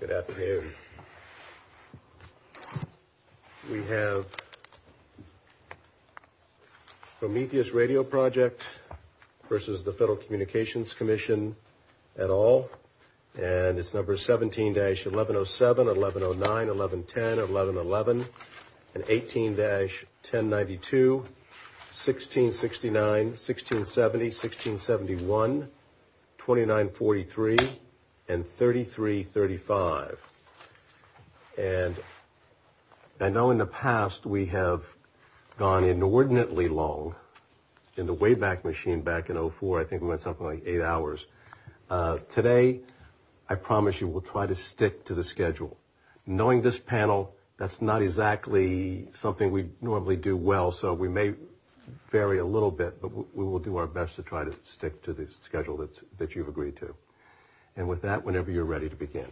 Good afternoon. We have Prometheus Radio Project versus the Federal Communications Commission et al. And it's number 17-1107, 1109, 1110, 1111, and 18-1092, 1669, 1670, 1671, 2943, and 3335. And I know in the past we have gone inordinately long in the Wayback Machine back in 04. I think we went something like eight hours. Today, I promise you we'll try to stick to the schedule. Knowing this panel, that's not exactly something we normally do well. So we may vary a little bit, but we will do our best to try to stick to the schedule that you've agreed to. And with that, whenever you're ready to begin.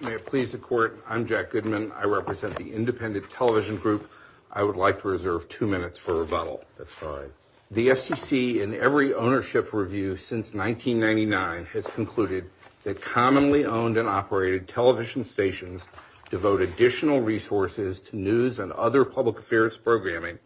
May it please the Court, I'm Jack Goodman. I represent the Independent Television Group. I would like to reserve two minutes for rebuttal. That's fine. The FCC in every ownership review since 1999 has concluded that commonly owned and operated television stations devote additional resources to news and other public affairs programming,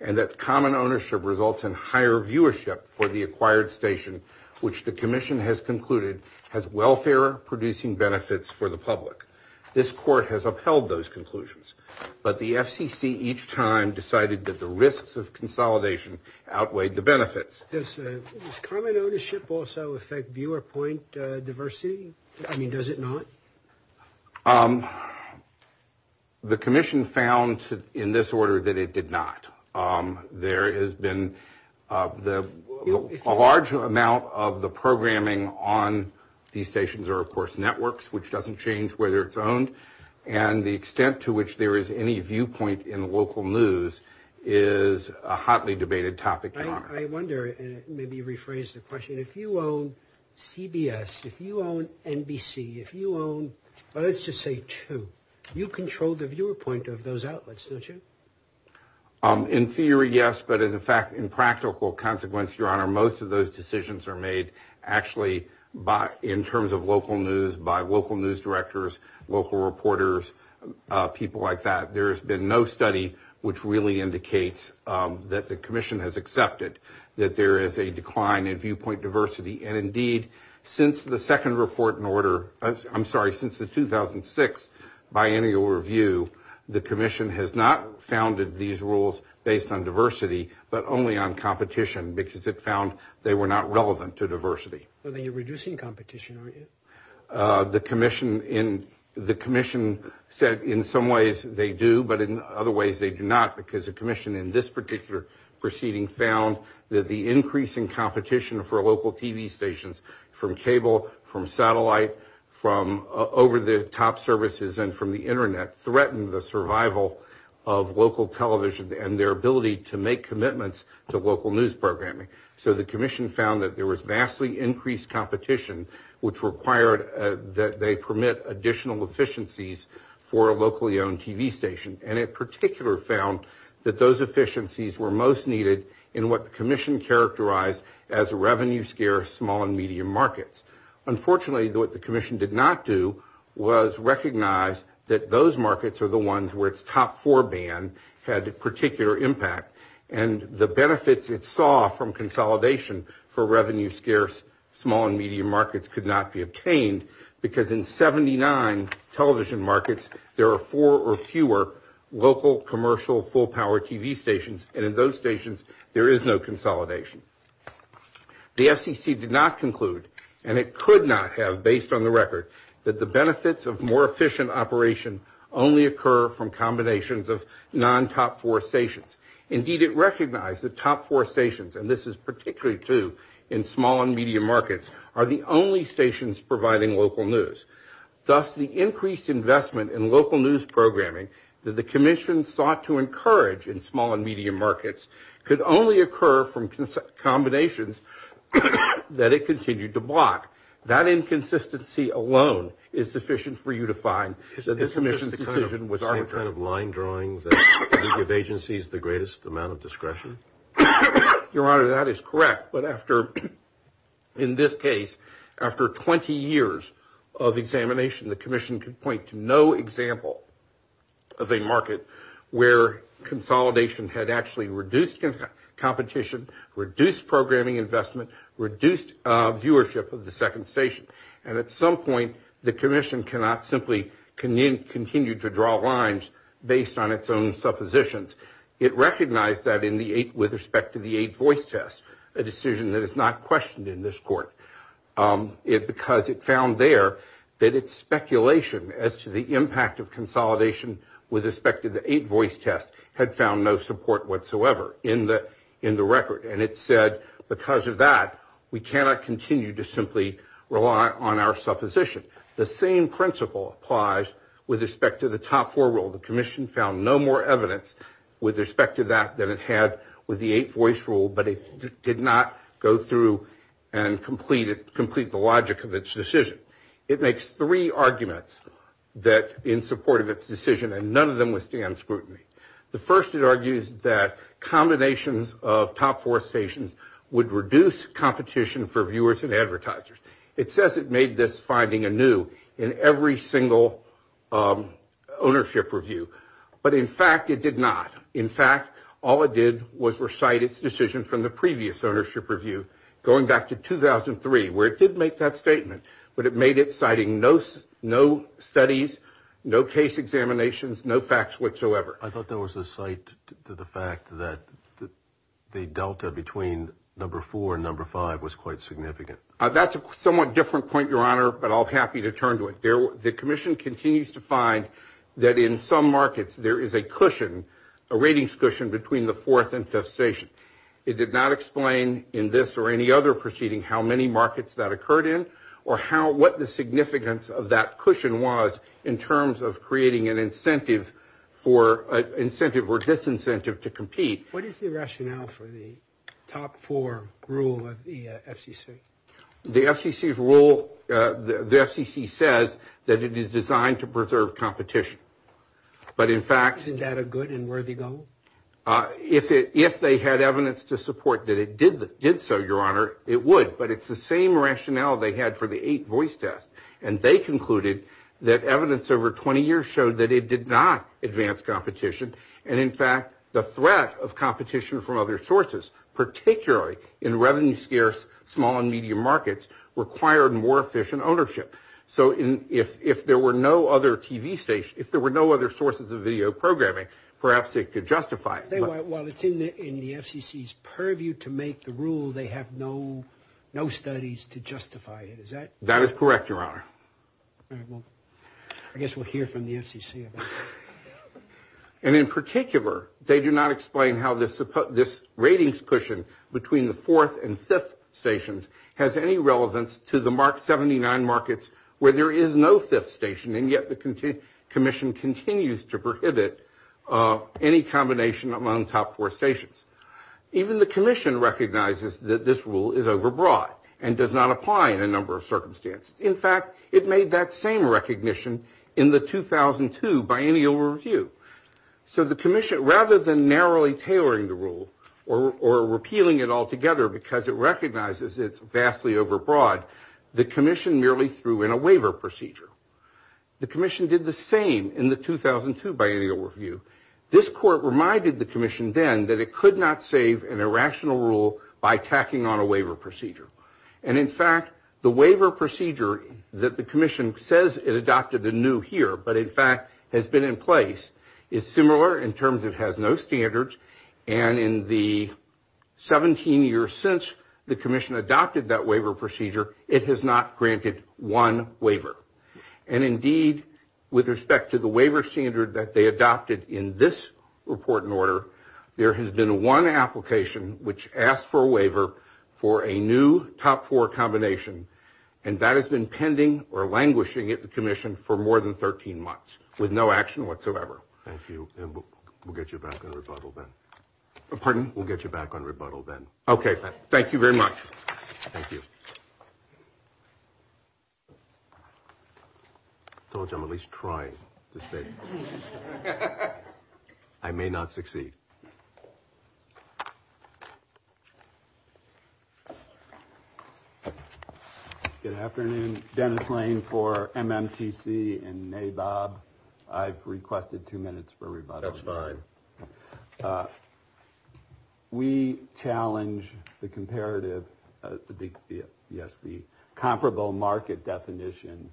and that common ownership results in higher viewership for the acquired station, which the Commission has concluded has welfare-producing benefits for the public. This Court has upheld those conclusions, but the FCC each time decided that the risks of consolidation outweighed the benefits. Does common ownership also affect viewer point diversity? I mean, does it not? The Commission found in this order that it did not. There has been a large amount of the programming on these stations are, of course, networks, which doesn't change whether it's owned. And the extent to which there is any viewpoint in local news is a hotly debated topic. I wonder, maybe rephrase the question, if you own CBS, if you own NBC, if you own, let's just say two, you control the viewer point of those outlets, don't you? In theory, yes, but in fact, in practical consequence, Your Honor, most of those decisions are made actually in terms of local news by local news directors, local reporters, people like that. There has been no study which really indicates that the Commission has accepted that there is a decline in viewpoint diversity. And indeed, since the second report in order, I'm sorry, since the 2006 biennial review, the Commission has not founded these rules based on diversity, but only on competition because it found they were not relevant to diversity. So then you're reducing competition, right? The Commission said in some ways they do, but in other ways they do not, because the Commission in this particular proceeding found that the increase in competition for local TV stations from cable, from satellite, from over-the-top services and from the internet threatened the survival of local television and their ability to make commitments to local news programming. So the Commission found that there was vastly increased competition, which required that they permit additional efficiencies for a locally owned TV station, and in particular found that those efficiencies were most needed in what the Commission characterized as revenue-scarce small and medium markets. Unfortunately, what the Commission did not do was recognize that those markets are the ones where its top four ban had particular impact, and the benefits it saw from consolidation for revenue-scarce small and medium markets could not be obtained because in 79 television markets, there are four or fewer local commercial full-power TV stations, and in those stations, there is no consolidation. The FCC did not conclude, and it could not have based on the record, that the benefits of more efficient operation only occur from combinations of non-top four stations. Indeed, it recognized that top four stations, and this is particularly true in small and medium markets, are the only stations providing local news. Thus, the increased investment in local news programming that the Commission sought to encourage in small and medium markets could only occur from combinations that it continued to block. That inconsistency alone is sufficient for you to find that this Commission's decision was arbitrary. Is it the same kind of line drawing that gives agencies the greatest amount of discretion? Your Honor, that is correct, but in this case, after 20 years of examination, the Commission could point to no example of a market where consolidation had actually reduced competition, reduced programming investment, reduced viewership of the second station, and at some point, the Commission cannot simply continue to draw lines based on its own suppositions. It recognized that with respect to the eight voice test, a decision that is not questioned in this court, because it found there that its speculation as to the impact of in the record, and it said because of that, we cannot continue to simply rely on our supposition. The same principle applies with respect to the top four rule. The Commission found no more evidence with respect to that than it had with the eight voice rule, but it did not go through and complete the logic of its decision. It makes three arguments that in support of its decision, and none of them withstand scrutiny. The first, it argues that combinations of top four stations would reduce competition for viewers and advertisers. It says it made this finding anew in every single ownership review, but in fact, it did not. In fact, all it did was recite its decision from the previous ownership review, going back to 2003, where it did make that no facts whatsoever. I thought there was a site to the fact that the delta between number four and number five was quite significant. That's a somewhat different point, Your Honor, but I'll be happy to turn to it. The Commission continues to find that in some markets, there is a cushion, a ratings cushion between the fourth and fifth station. It did not explain in this or any other proceeding how many markets that occurred in, or what the significance of that cushion was in terms of creating an incentive for, incentive or disincentive to compete. What is the rationale for the top four rule of the FCC? The FCC's rule, the FCC says that it is designed to preserve competition, but in fact... Isn't that a good and worthy goal? If they had evidence to support that it did so, Your Honor, it would, but it's the same that evidence over 20 years showed that it did not advance competition, and in fact, the threat of competition from other sources, particularly in revenue-scarce, small and medium markets, required more efficient ownership. So if there were no other TV station, if there were no other sources of video programming, perhaps it could justify it. While it's in the FCC's purview to make the rule, they have no studies to justify it, is that? That is correct, Your Honor. I guess we'll hear from the FCC about that. And in particular, they do not explain how this ratings cushion between the fourth and fifth stations has any relevance to the mark 79 markets where there is no fifth station, and yet the commission continues to prohibit any combination among top four stations. Even the commission recognizes that this rule is overbroad and does not apply in a number of circumstances. In fact, it made that same recognition in the 2002 biennial review. So the commission, rather than narrowly tailoring the rule or repealing it altogether because it recognizes it's vastly overbroad, the commission merely threw in a waiver procedure. The commission did the same in the 2002 biennial review. This court reminded the commission then that it could not save an irrational rule by tacking on a waiver procedure. And in fact, the waiver procedure that the commission says it adopted the new here, but in fact has been in place, is similar in terms it has no standards. And in the 17 years since the commission adopted that waiver procedure, it has not granted one waiver. And indeed, with respect to the waiver standard that they adopted in this report and for a new top four combination, and that has been pending or languishing at the commission for more than 13 months with no action whatsoever. Thank you. And we'll get you back on rebuttal then. Pardon? We'll get you back on rebuttal then. Okay. Thank you very much. Thank you. So I'm at least trying to say I may not succeed. Good afternoon, Dennis Lane for MMTC and NABOB. I've requested two minutes for rebuttal. Sorry. We challenge the comparative, yes, the comparable market definition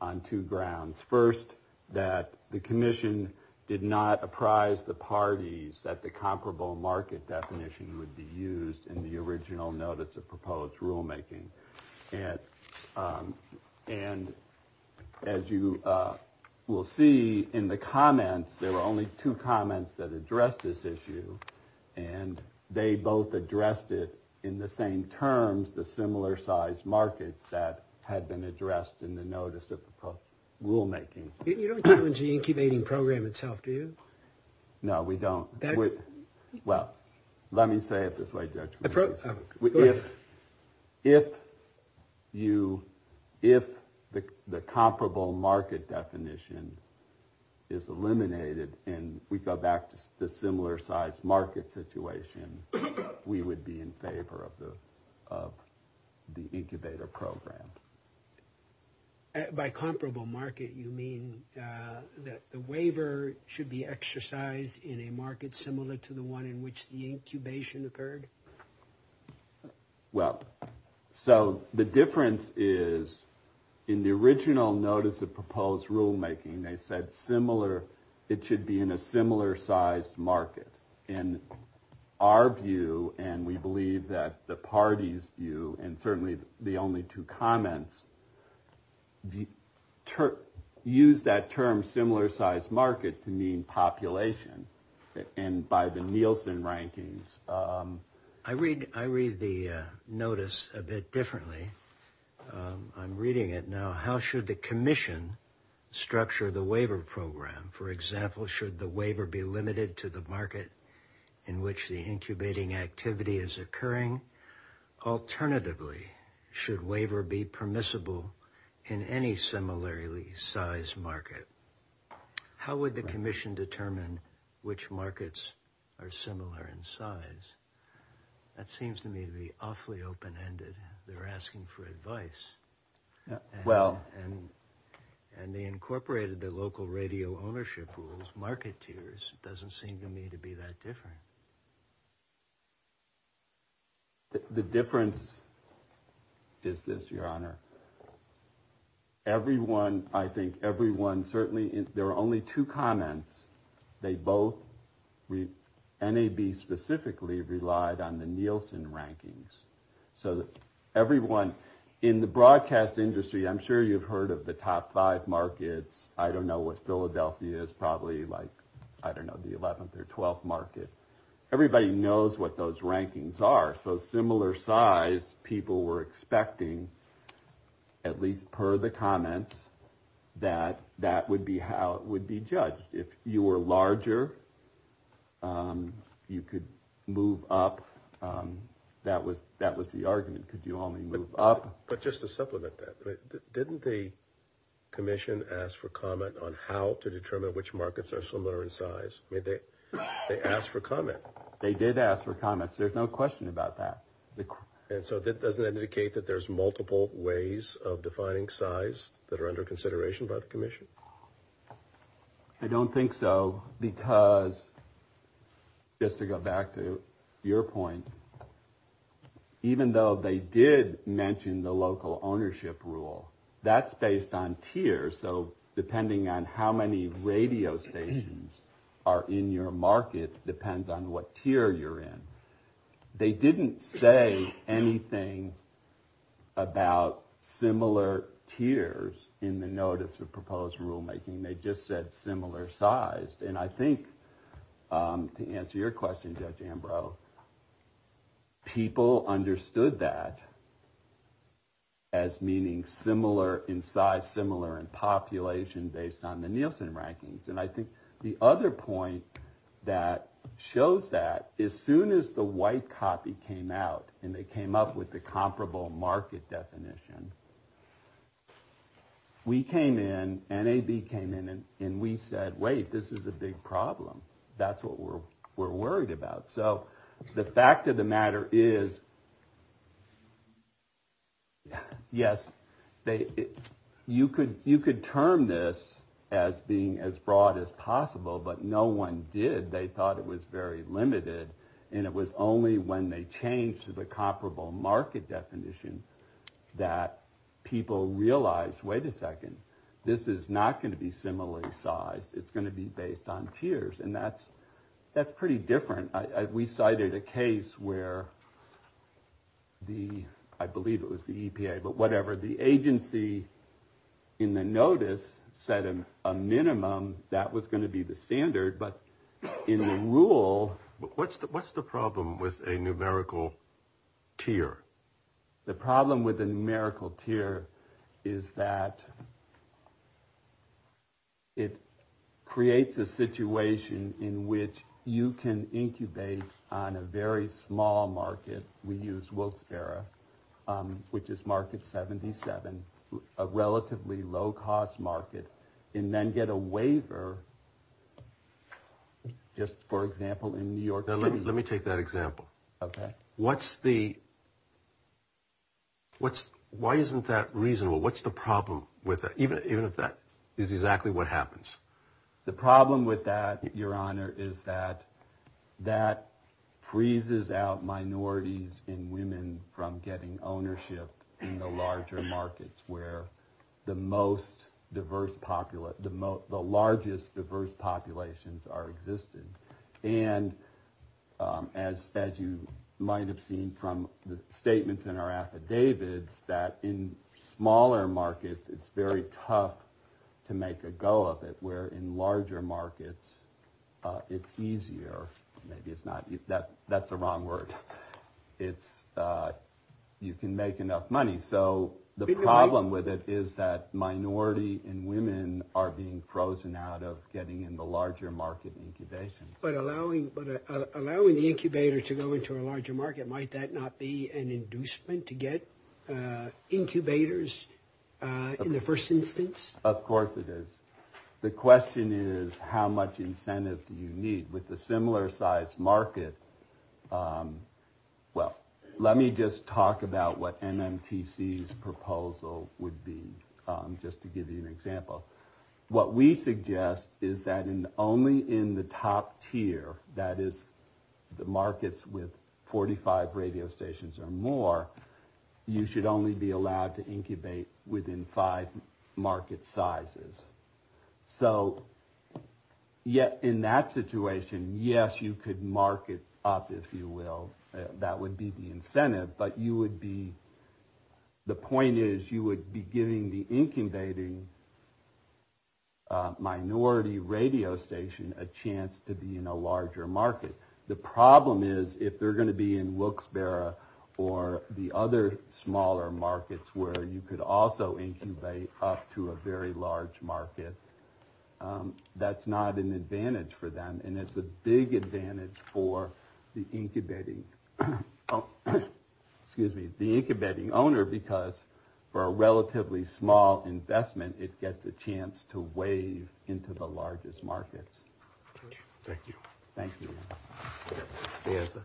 on two grounds. First, that the commission did not apprise the parties that the comparable market definition would be used in the original notice of proposed rulemaking. And as you will see in the comments, there are only two comments that address this issue. And they both addressed it in the same terms, the similar size market that had been addressed in the notice of rulemaking. You don't think it was the incubating program itself, do you? No, we don't. Well, let me say it this way. If you, if the comparable market definition is eliminated and we go back to the similar size market situation, we would be in favor of the incubator program. By comparable market, you mean that the waiver should be exercised in a market similar to the one in which the incubation occurred? Well, so the difference is in the original notice of proposed rulemaking, they said similar, it should be in a similar size market. In our view, and we believe that the parties view, and certainly the only two comments, use that term similar size market to mean population. And by the Nielsen rankings. I read the notice a bit differently. I'm reading it now. How should the commission structure the waiver program? For example, should the waiver be limited to the market in which the incubating activity is occurring? Alternatively, should waiver be permissible in any similarly sized market? How would the commission determine which markets are similar in size? That seems to me to be awfully open-ended. They're asking for advice. Well, and they incorporated the local radio ownership rules, market tiers doesn't seem to me to be that different. The difference is this, Your Honor. Everyone, I think everyone certainly, there are only two comments. They both, NAB specifically relied on the Nielsen rankings. So everyone, in the broadcast industry, I'm sure you've heard of the top five markets. I don't know what Philadelphia is, I don't know the 11th or 12th market. Everybody knows what those rankings are. So similar size people were expecting, at least per the comments, that that would be how it would be judged. If you were larger, you could move up. That was the argument. Could you only move up? But just to supplement that, didn't the commission ask for comment on how to determine which markets are similar in size? I mean, they asked for comment. They did ask for comment. There's no question about that. And so that doesn't indicate that there's multiple ways of defining size that are under consideration by the commission? I don't think so because, just to go back to your point, even though they did mention the local ownership rule, that's based on tiers. So depending on how many radio stations are in your market depends on what tier you're in. They didn't say anything about similar tiers in the Notice of Proposed Rulemaking. They just said similar size. And I think, to answer your question, Judge Ambrose, people understood that as meaning similar in size, similar in population, based on the Nielsen rankings. And I think the other point that shows that, as soon as the white copy came out and they came up with the comparable market definition, we came in, NAB came in, and we said, wait, this is a big problem. That's what we're worried about. So the fact of the matter is, yes, you could term this as being as broad as possible. But no one did. They thought it was very limited. And it was only when they changed to the comparable market definition that people realized, wait a second, this is not going to be similar in size. It's going to be based on tiers. And that's pretty different. We cited a case where the, I believe it was the EPA, but whatever, the agency in the notice set a minimum that was going to be the standard. But in the rule... But what's the problem with a numerical tier? The problem with a numerical tier is that it creates a situation in which you can incubate on a very small market, we use Wolf-Berra, which is market 77, a relatively low-cost market, and then get a waiver, just for example, in New York City... Let me take that example. What's the... Why isn't that reasonable? What's the problem with that, even if that is exactly what happens? The problem with that, Your Honor, is that that freezes out minorities and women from getting ownership in the larger markets where the largest diverse populations are existing. And as you might have seen from the statements in our affidavits, that in smaller markets, it's very tough to make a go of it, where in larger markets, it's easier. That's the wrong word. You can make enough money. So the problem with it is that minority and women are being incubated. But allowing the incubator to go into a larger market, might that not be an inducement to get incubators in the first instance? Of course it is. The question is how much incentive do you need with a similar-sized market? Well, let me just talk about what NMTC's proposal would be, just to give you an example. What we suggest is that only in the top tier, that is, the markets with 45 radio stations or more, you should only be allowed to incubate within five market sizes. So yet in that situation, yes, you could market up, if you will. That would be the incentive. But the point is, you would be giving the incubating minority radio station a chance to be in a larger market. The problem is, if they're going to be in Wilkes-Barre or the other smaller markets where you could also incubate up to a very large market, that's not an advantage for them. And it's a big advantage for the incubating owner, because for a relatively small investment, it gets a chance to wave into the largest markets. Thank you. Thank you, Leantha.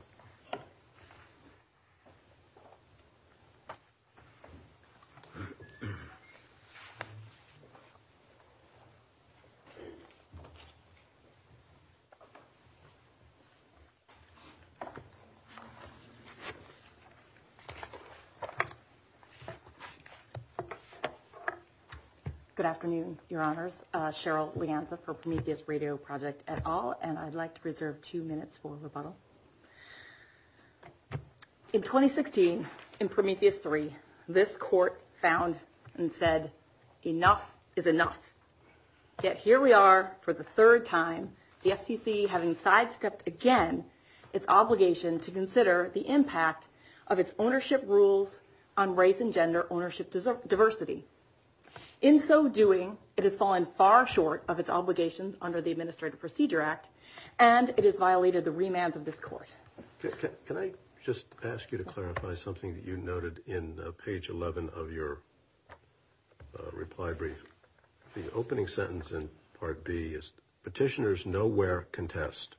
Good afternoon, Your Honors. Cheryl Leantha for Prometheus Radio Project et al., and I'd like to introduce our next panelist. In 2016, in Prometheus 3, this court found and said, enough is enough. Yet here we are for the third time, the FTC having sidestepped again its obligation to consider the impact of its ownership rules on race and gender ownership diversity. In so doing, it has fallen far short of its obligations under the Administrative Court. Can I just ask you to clarify something that you noted in page 11 of your reply brief? The opening sentence in Part B is, Petitioners nowhere contest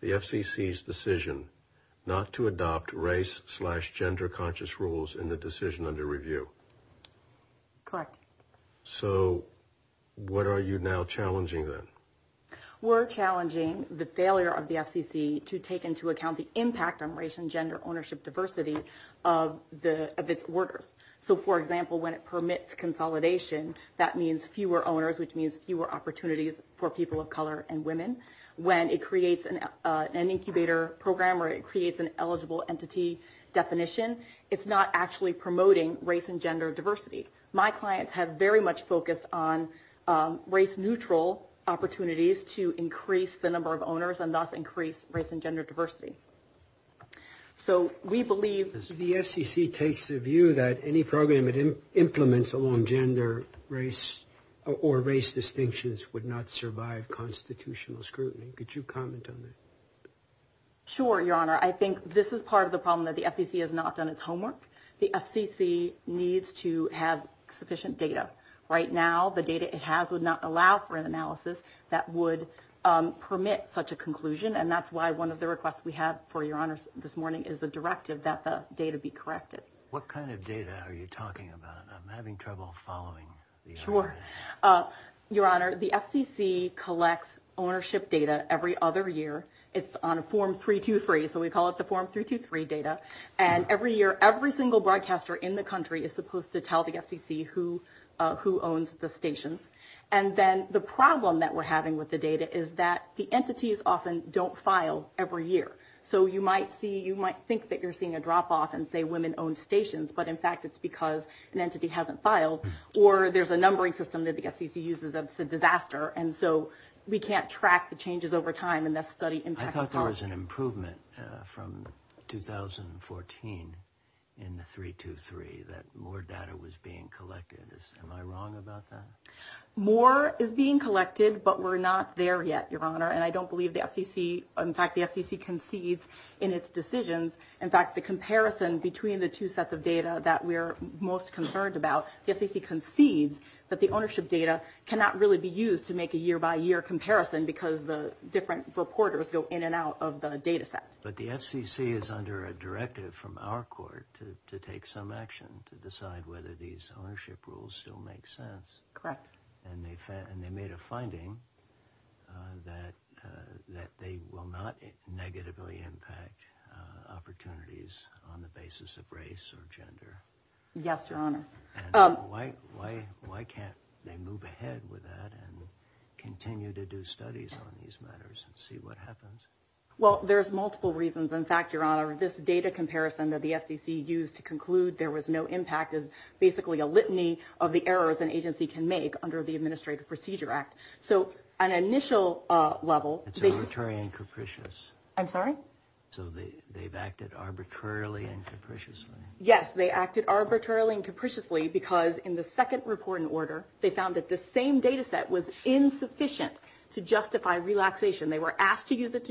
the FCC's decision not to adopt race-slash-gender-conscious rules in the decision under review. Correct. So what are you now challenging then? We're challenging the failure of the FCC to take into account the impact on race and gender ownership diversity of its orders. So, for example, when it permits consolidation, that means fewer owners, which means fewer opportunities for people of color and women. When it creates an incubator program or it creates an eligible entity definition, it's not actually promoting race and gender diversity. My clients have very much focused on race-neutral opportunities to increase the number of people of color and women of color. So we believe that the FCC takes the view that any program it implements along gender, race, or race distinctions would not survive constitutional scrutiny. Could you comment on that? Sure, Your Honor. I think this is part of the problem that the FCC has not done its homework. The FCC needs to have sufficient data. Right now, the data it has would not allow for an analysis that would permit such a conclusion. And that's why one of the requests we had for Your Honor this morning is a directive that the data be corrected. What kind of data are you talking about? I'm having trouble following the... Sure. Your Honor, the FCC collects ownership data every other year. It's on a Form 323. So we call it the Form 323 data. And every year, every single broadcaster in the country is supposed to tell the FCC who owns the stations. And then the problem that we're having with the data is that the entities often don't file every year. So you might think that you're seeing a drop-off and say women own stations, but in fact, it's because an entity hasn't filed. Or there's a numbering system that the FCC uses. It's a disaster. And so we can't track the changes over time unless the study impacts... I thought there was an improvement from 2014 in the 323 that more data was being collected. Am I wrong about that? More is being collected, but we're not there yet, Your Honor. And I don't believe the FCC... In fact, the FCC concedes in its decisions. In fact, the comparison between the two sets of data that we're most concerned about, the FCC concedes that the ownership data cannot really be used to make a year-by-year comparison because the different reporters go in and out of the data set. But the FCC is under a directive from our court to take some action to decide whether these ownership rules still make sense. Correct. And they made a finding that they will not negatively impact opportunities on the basis of race or gender. Yes, Your Honor. Why can't they move ahead with that and continue to do studies on these matters and see what happens? Well, there's multiple reasons. In fact, Your Honor, this data comparison that the FCC used to conclude there was no impact is basically a litany of the errors an agency can make under the Administrative Procedure Act. So an initial level... It's arbitrary and capricious. I'm sorry? So they've acted arbitrarily and capriciously. Yes, they acted arbitrarily and capriciously because in the second reporting order, they found that the same data set was insufficient to justify relaxation. They were asked to use it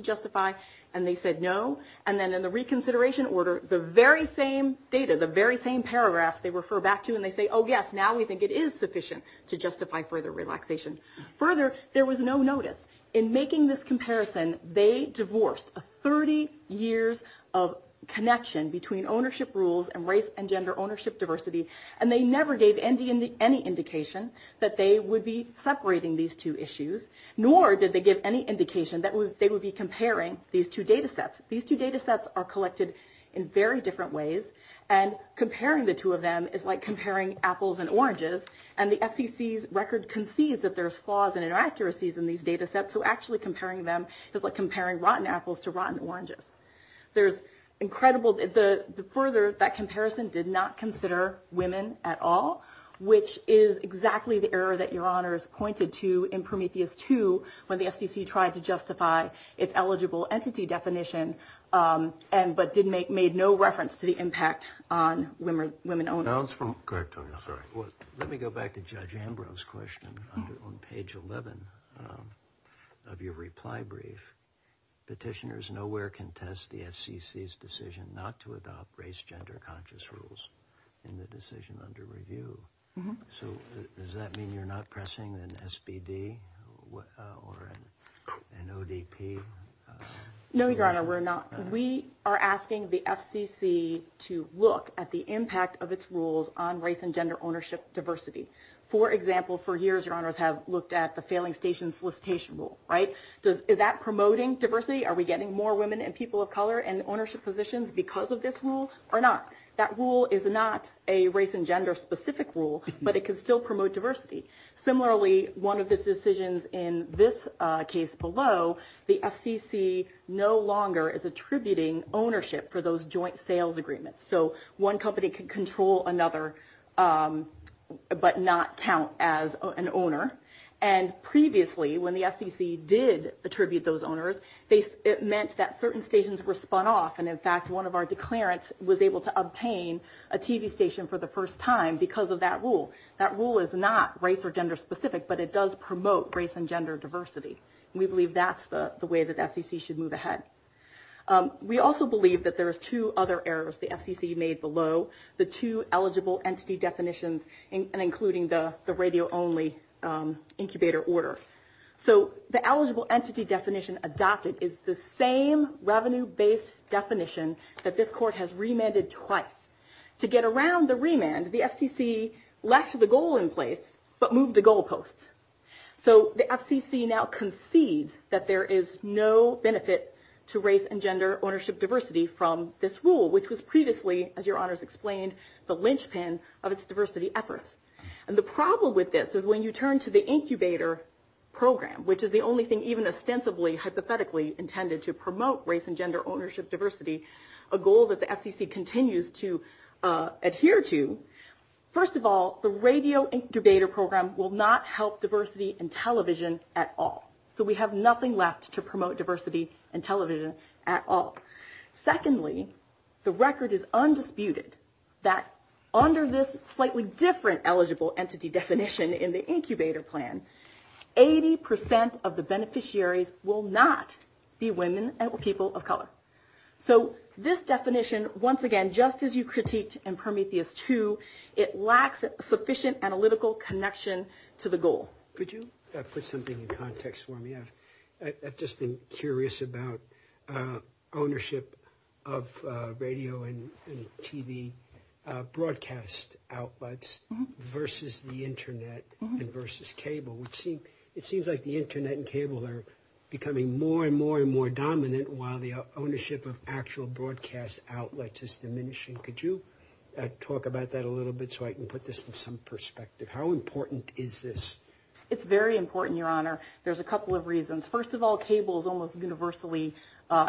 and they said no. And then in the reconsideration order, the very same data, the very same paragraph they refer back to and they say, oh, yes, now we think it is sufficient to justify further relaxation. Further, there was no notice. In making this comparison, they divorced 30 years of connection between ownership rules and race and gender ownership diversity, and they never gave any indication that they would be separating these two issues, nor did they give any indication that they would be comparing these two data sets. These two data sets are collected in very different ways, and comparing the two of them is like comparing apples and oranges. And the FCC's record concedes that there's flaws and inaccuracies in these data sets, so actually comparing them is like comparing rotten apples to rotten oranges. There's incredible... Further, that comparison did not consider women at all, which is exactly the error that Your Honor has pointed to in Prometheus 2 when the FCC tried to justify its eligible entity definition, but made no reference to the impact on women owners. Let me go back to Judge Ambrose's question on page 11 of your reply brief. Petitioners nowhere contest the FCC's decision not to adopt race-gender conscious rules in the decision under review. So does that mean you're not pressing an SBD or an ODP? No, Your Honor, we're not. We are asking the FCC to look at the impact of its rules on race and gender ownership diversity. For example, for years, Your Honors have looked at the failing station solicitation rule, right? Is that promoting diversity? Are we getting more women and people of color in ownership positions because of this rule or not? That rule is not a race and gender-specific rule, but it can still promote diversity. Similarly, one of the decisions in this case below, the FCC no longer is attributing ownership for those joint sales agreements. So one company can control another, but not count as an owner. And previously, when the FCC did attribute those owners, it meant that certain stations were spun off. And in fact, one of our declarants was able to obtain a TV station for the first time because of that rule. That rule is not race or gender-specific, but it does promote race and gender diversity. We believe that's the way that FCC should move ahead. We also believe that there are two other errors the FCC made below the two eligible entity definitions, including the radio-only incubator order. So the eligible entity definition adopted is the same revenue-based definition that this court has remanded twice. To get around the remand, the FCC left the goal in place but moved the goalposts. So the FCC now concedes that there is no benefit to race and gender ownership diversity from this rule, which was previously, as your honors explained, the linchpin of its diversity efforts. And the problem with this is when you hypothetically intended to promote race and gender ownership diversity, a goal that the FCC continues to adhere to, first of all, the radio incubator program will not help diversity in television at all. So we have nothing left to promote diversity in television at all. Secondly, the record is undisputed that under this slightly different eligible entity definition in the will not be women and people of color. So this definition, once again, just as you critiqued in Prometheus 2, it lacks sufficient analytical connection to the goal. Could you put something in context for me? I've just been curious about ownership of radio and TV broadcast outlets versus the internet and versus cable. It seems like the internet and cable are becoming more and more and more dominant while the ownership of actual broadcast outlets is diminishing. Could you talk about that a little bit so I can put this with some perspective? How important is this? It's very important, your honor. There's a couple of reasons. First of all, cable is almost universally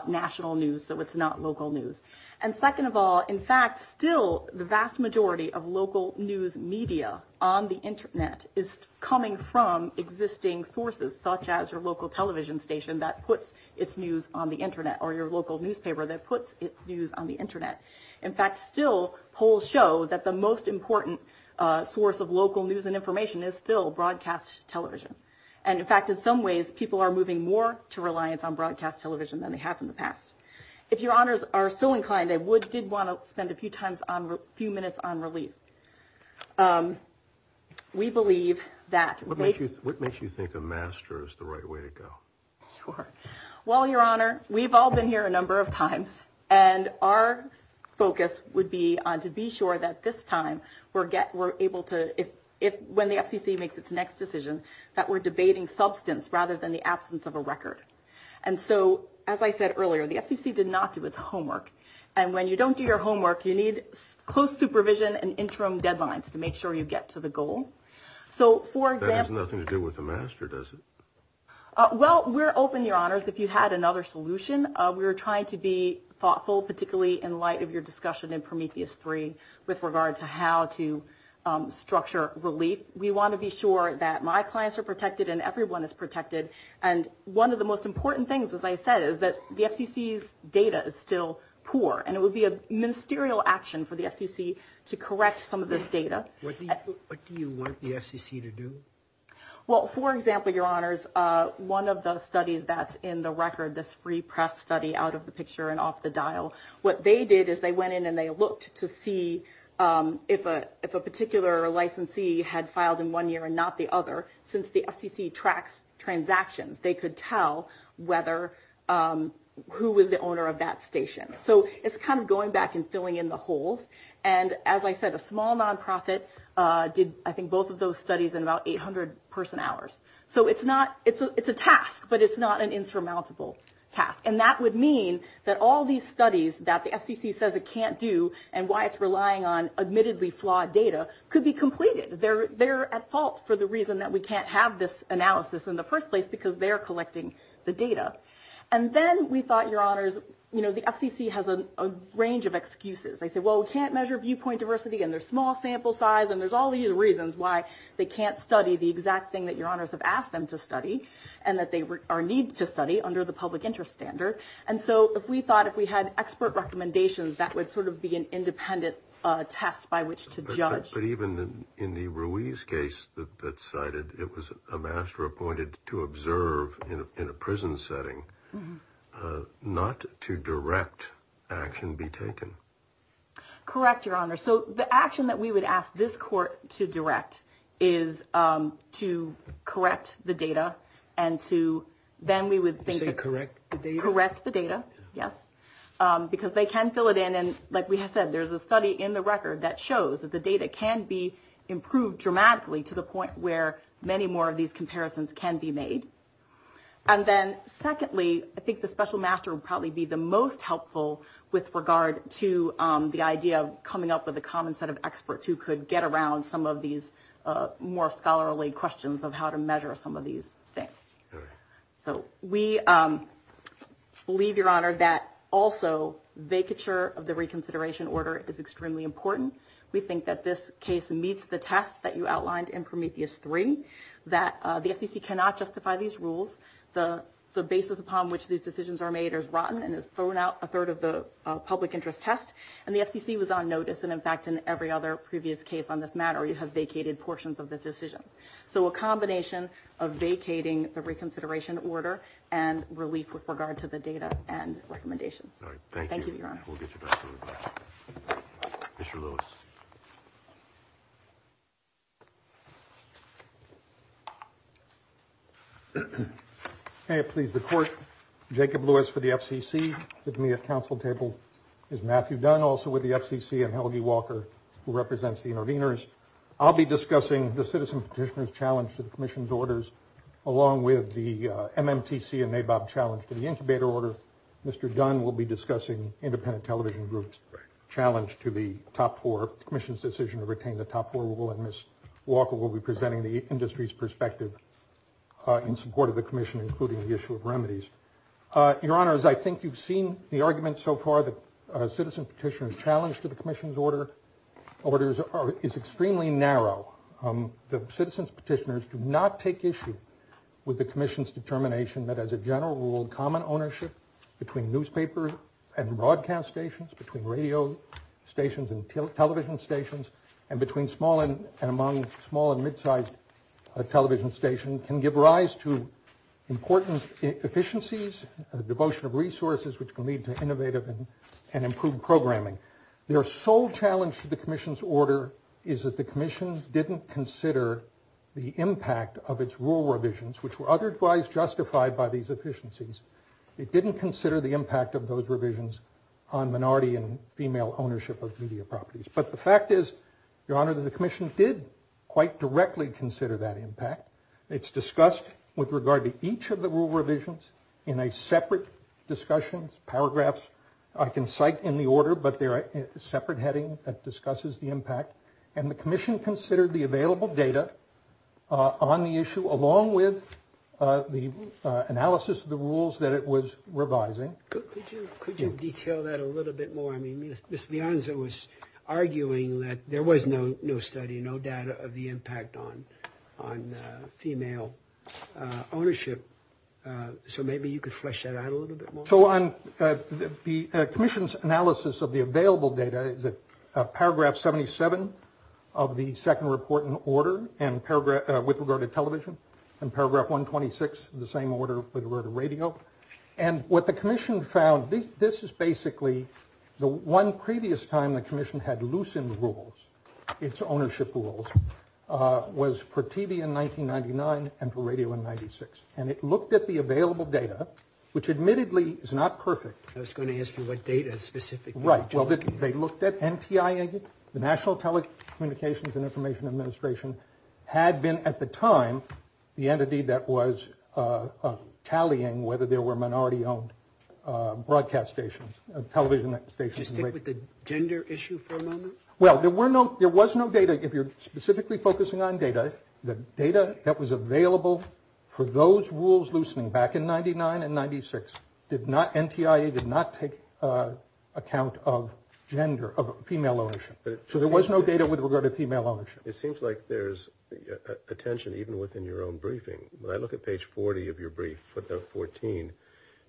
national news, so it's not local news. And second of all, in fact, still the vast majority of local news media on the internet is coming from existing sources, such as your local television station that puts its news on the internet or your local newspaper that puts its news on the internet. In fact, still polls show that the most important source of local news and information is still broadcast television. And in fact, in some ways, people are moving more to reliance on broadcast television than they have in the past. If your honors are so inclined, I did want to spend a few minutes on release. We believe that... What makes you think a master is the right way to go? Sure. Well, your honor, we've all been here a number of times, and our focus would be on to be sure that this time we're able to, when the FTC makes its next decision, that we're debating substance rather than the absence of a record. And so, as I said earlier, the FTC did not do its homework. And when you don't do your homework, you need close supervision and interim deadlines to make sure you get to the goal. So, for example... That has nothing to do with the master, does it? Well, we're open, your honors, if you had another solution. We're trying to be thoughtful, particularly in light of your discussion in Prometheus 3 with regard to how to structure relief. We want to be sure that my clients are protected and everyone is protected. And one of the most important things, as I said, is that the FTC's data is still poor, and it would be a ministerial action for the FTC to correct some of this data. What do you want the FTC to do? Well, for example, your honors, one of the studies that's in the record, this free press study out of the picture and off the dial, what they did is they went in and they looked to see if a particular licensee had filed in one year and not the other, since the FTC tracks transactions, they could tell who was the owner of that station. So, it's kind of going back and filling in the holes. And as I said, a small nonprofit did, I think, both of those studies in about 800 person hours. So, it's a task, but it's not an insurmountable task. And that would mean that all these studies that the FTC says it can't do and why it's relying on admittedly flawed data could be completed. They're at fault for the reason that we can't have this analysis in the first place because they're collecting the data. And then we thought, your honors, you know, the FTC has a range of excuses. They say, well, we can't measure viewpoint diversity and their small sample size. And there's all these reasons why they can't study the exact thing that your honors have asked them to study and that they need to study under the public interest standard. And so, if we thought if we had expert recommendations, that would sort of be an independent test by which to judge. But even in the Ruiz case that's cited, it was a master appointed to observe in a prison setting not to direct action be taken. Correct, your honors. So, the action that we would ask this court to direct is to correct the data and to then we would think to correct the data, yes, because they can fill it in. And like we have said, there's a study in the record that shows that the data can be improved dramatically to the point where many more of these comparisons can be made. And then secondly, I think the special master would probably be the most helpful with regard to the idea of coming up with a common set of experts who could get around some of these more scholarly questions of how to measure some of these things. So, we believe, your honor, that also vacature of the reconsideration order is extremely important. We think that this case meets the test that you outlined in Prometheus 3, that the FTC cannot justify these rules. The basis upon which these decisions are made is rotten and is thrown out a third of the public interest test. And the FTC was on notice. And, in fact, in every other previous case on this matter, you have vacated portions of the decision. So, a combination of vacating the reconsideration order and relief with regard to the data and Mr. Lewis. Can I please report? Jacob Lewis for the FCC, with me at council table is Matthew Dunn, also with the FCC, and Helgi Walker, who represents the interveners. I'll be discussing the citizen petitioner's challenge to the commission's orders, along with the MMTC and NABOP challenge to the incubator order. Mr. Dunn will be discussing independent television groups challenge to the top four commission's decision to retain the top four rule. And Ms. Walker will be presenting the industry's perspective in support of the commission, including the issue of remedies. Your honors, I think you've seen the argument so far that a citizen petitioner's challenge to the commission's orders is extremely narrow. The citizen's petitioners do not take issue with the commission's determination that as a general rule, common ownership between newspapers and broadcast stations, between radio stations and television stations, and between small and among small and mid-sized television stations can give rise to important efficiencies, a devotion of resources, which can lead to innovative and improved programming. Their sole challenge to the commission's order is that the commission didn't consider the impact of its rule revisions, which were otherwise justified by these efficiencies. It didn't consider the impact of those revisions on minority and female ownership of media properties. But the fact is, your honor, that the commission did quite directly consider that impact. It's discussed with regard to each of the rule revisions in a separate discussion, paragraphs I can cite in the order, but they're a separate heading that discusses the impact. And the that it was revising. Could you detail that a little bit more? I mean, Ms. Beyonce was arguing that there was no study, no data of the impact on female ownership. So maybe you could flesh that out a little bit more. So on the commission's analysis of the available data, paragraph 77 of the second report in order, with regard to television, and paragraph 126, the same order with regard to radio. And what the commission found, this is basically the one previous time the commission had loosened rules, its ownership rules, was for TV in 1999 and for radio in 96. And it looked at the available data, which admittedly is not perfect. I was going to ask you what data specifically? Right. Well, they looked at NTIA, the National Telecommunications and Information Administration had been at the time, the entity that was tallying whether there were minority-owned broadcast stations, television stations. Do you stick with the gender issue for a moment? Well, there were no, there was no data. If you're specifically focusing on data, the data that was available for those rules loosening back in 99 and 96, did not, NTIA did not take account of gender, of female ownership. So there was no data with regard to female ownership. It seems like there's attention even within your own briefing. When I look at page 40 of your brief, 14,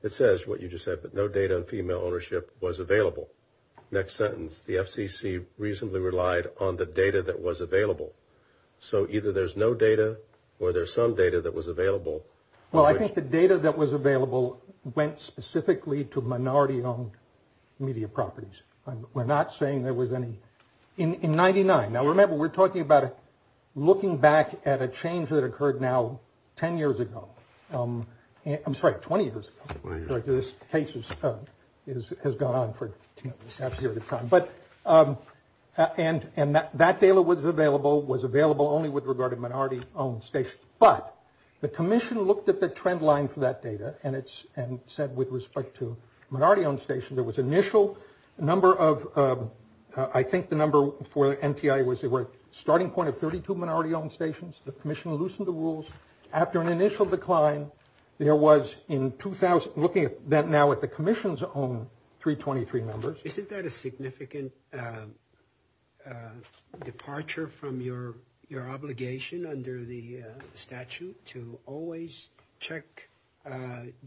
it says what you just said, but no data on female ownership was available. Next sentence, the FCC reasonably relied on the data that was available. So either there's no data or there's some data that was available. Well, I think the data that was available went specifically to minority-owned media properties. We're not saying there was any in 99. Now, remember, we're talking about looking back at a change that occurred now, 10 years ago. I'm sorry, 20 years ago. This case has gone on for a decade at a time. But, and that data was available, was available only with regard to minority-owned stations. But the commission looked at the trend line for that data and it's, and said with respect to minority-owned stations, there was initial number of, I think the number for NTI was they were starting point of 32 minority-owned stations. The commission loosened the rules. After an initial decline, there was in 2000, looking at that now at the commission's own 323 numbers. Isn't that a significant departure from your obligation under the statute to always check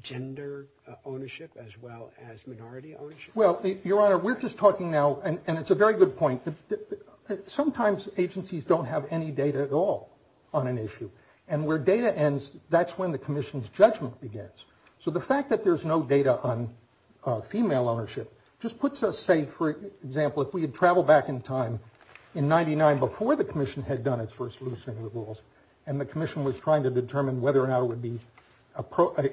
gender ownership as well as minority ownership? Well, Your Honor, we're just talking now, and it's a very good point. Sometimes agencies don't have any data at all on an issue. And where data ends, that's when the commission's judgment begins. So the fact that there's no data on female ownership just puts us, say, for example, if we had traveled back in time in 99 before the commission had done its first loosening of the rules, and the commission was trying to determine whether or not it would be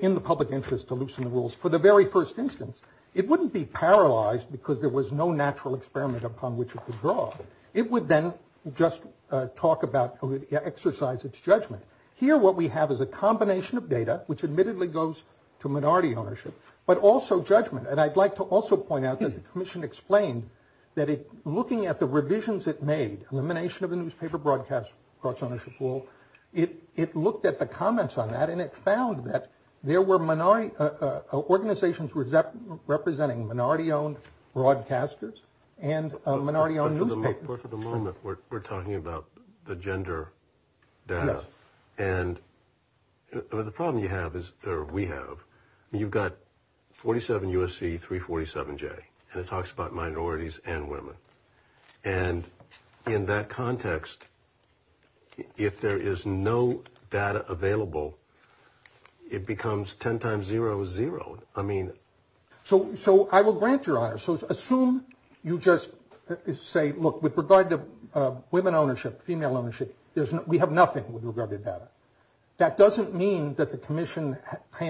in the public interest to loosen the rules, for the very first instance, it wouldn't be paralyzed because there was no natural experiment upon which it could draw. It would then just talk about, exercise its judgment. Here, what we have is a combination of data, which admittedly goes to minority ownership, but also judgment. And I'd like to also point out that the commission explained that looking at the revisions it made, elimination of the newspaper broadcast ownership rule, it looked at the comments on that and it found that there were minority organizations representing minority-owned broadcasters and minority-owned newspapers. For the moment, we're talking about the gender balance. And the problem you have is – or we have – I mean, you've got 47 U.S.C., 347J, and it talks about minorities and women. And in that context, if there is no data available, it becomes 10 times 0 is 0. I mean… So I will grant your honor. So assume you just say, look, with regard to women ownership, female ownership, we have nothing with regard to data. That doesn't mean that the commission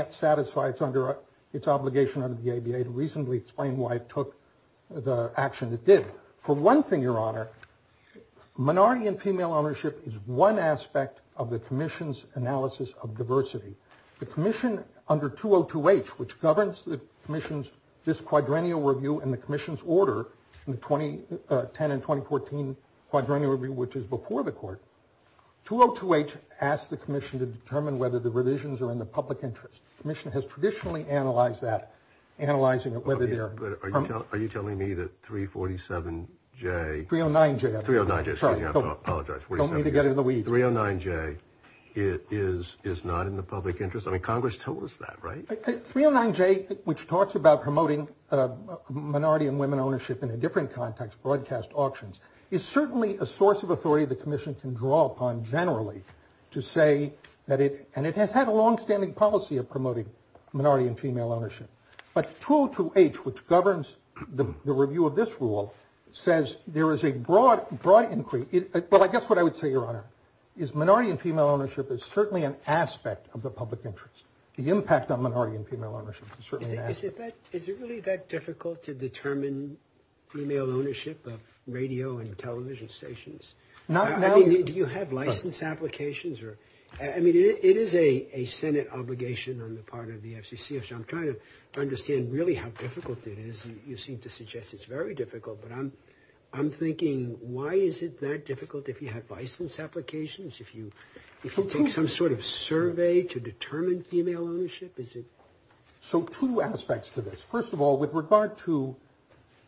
satisfies under its obligation under the ABA to reasonably explain why it took the action it did. For one thing, your honor, minority and female ownership is one aspect of the commission's analysis of diversity. The commission, under 202H, which governs the commission's – this quadrennial review and the commission's order in the 2010 and 2014 quadrennial review, which is before the court, 202H asked the commission to determine whether the revisions are in the public interest. The commission has traditionally analyzed that, analyzing whether they are… Are you telling me that 347J… 309J. 309J. Sorry, I apologize. Don't mean to get in the weeds. 309J is not in the public interest? I mean, Congress told us that, right? 309J, which talks about promoting minority and women ownership in a different context, broadcast auctions, is certainly a source of authority the commission can draw upon generally to say that it – and it has had a longstanding policy of promoting minority and female ownership. But 202H, which governs the review of this rule, says there is a broad increase – well, I guess what I would say, your honor, is minority and female ownership is certainly an aspect of the public interest. The impact on minority and female ownership is certainly an aspect. Is it really that difficult to determine female ownership of radio and television stations? Do you have license applications? I mean, it is a Senate obligation on the part of the FCC, so I'm trying to understand really how difficult it is, you see, to suggest it's very difficult. But I'm thinking, why is it that difficult if you have license applications, if you take some sort of survey to determine female ownership? Is it… So, two aspects to this. First of all, with regard to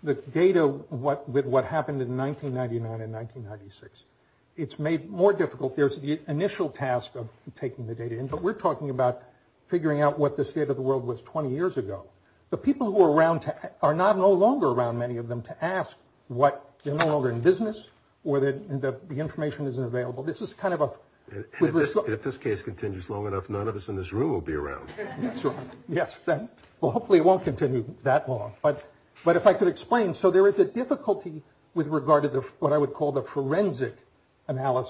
the data with what happened in 1999 and 1996, it's made more difficult. There's the initial task of taking the data in, but we're talking about figuring out what the state of the world was 20 years ago. The people who are around are no longer around, many of them, to ask whether they're in business or the information isn't available. This is kind of a… If this case continues long enough, none of us in this room will be around. Yes, well, hopefully it won't continue that long. But if I could explain, so there is a difficulty with regard to what I would call the about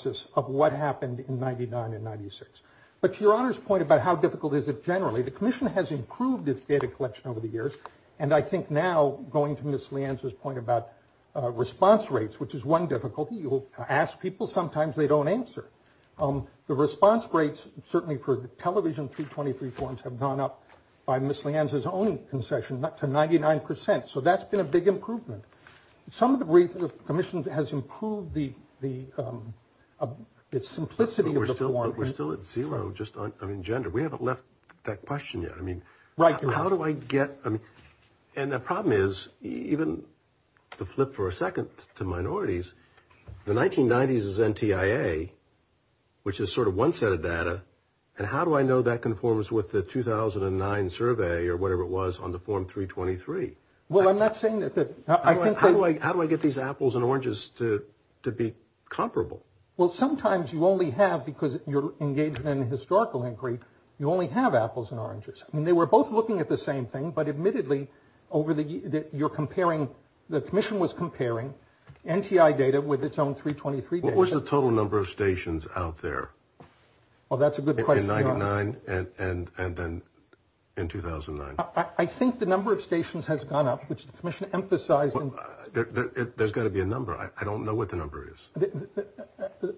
how difficult is it generally. The commission has improved its data collection over the years, and I think now, going to Ms. Lianza's point about response rates, which is one difficulty, you will ask people, sometimes they don't answer. The response rates, certainly for television 323 forms, have gone up by Ms. Lianza's own concession to 99 percent, so that's been a big improvement. Some of the briefings, the commission has improved the… Its simplicity is still at zero, just on gender. We haven't left that question yet. I mean, how do I get… And the problem is, even to flip for a second to minorities, the 1990s is NTIA, which is sort of one set of data, and how do I know that conforms with the 2009 survey, or whatever it was, on the form 323? Well, I'm not saying that… How do I get these apples and oranges to be comparable? Well, sometimes you only have, because you're engaged in a historical inquiry, you only have apples and oranges. I mean, they were both looking at the same thing, but admittedly, over the years, you're comparing… The commission was comparing NTIA data with its own 323 data. What was the total number of stations out there? Well, that's a good question. In 99, and then in 2009? I think the number of stations has gone up, which the commission emphasized. There's got to be a number. I don't know what the number is.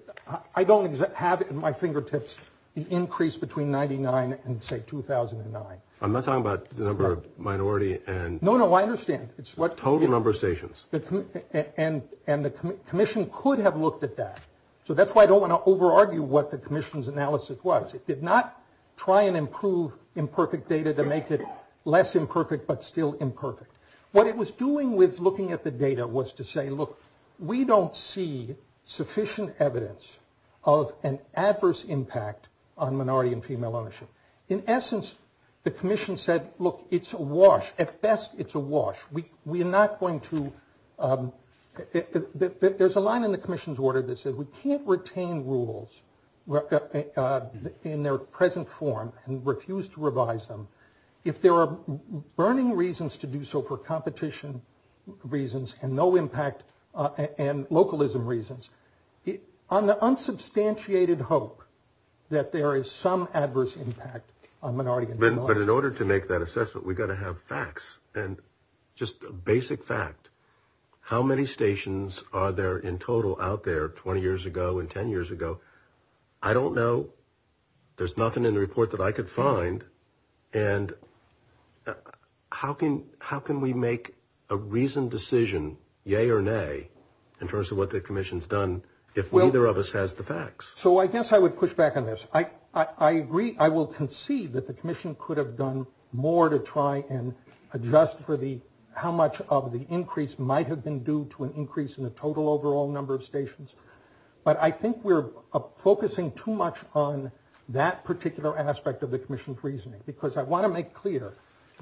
I don't have it in my fingertips, the increase between 99 and, say, 2009. I'm not talking about the number of minority and… No, no, I understand. It's what… Total number of stations. And the commission could have looked at that. So that's why I don't want to over-argue what the commission's analysis was. It did not try and improve imperfect data to make it less imperfect, but still imperfect. What it was doing with looking at the data was to say, look, we don't see sufficient evidence of an adverse impact on minority and female ownership. In essence, the commission said, look, it's a wash. At best, it's a wash. We're not going to… There's a line in the commission's order that says we can't retain rules in their present form and refuse to revise them if there are burning reasons to do so for competition reasons and no impact and localism reasons. On the unsubstantiated hope that there is some adverse impact on minority… But in order to make that assessment, we've got to have facts and just a basic fact. How many stations are there in total out there 20 years ago and 10 years ago? I don't know. There's nothing in the report that I could find. And how can we make a reasoned decision, yay or nay, in terms of what the commission's done if neither of us has the facts? I guess I would push back on this. I agree. I will concede that the commission could have done more to try and adjust for how much of the increase might have been due to an increase in the total overall number of stations. But I think we're focusing too much on that particular aspect of the commission's reasoning because I want to make clear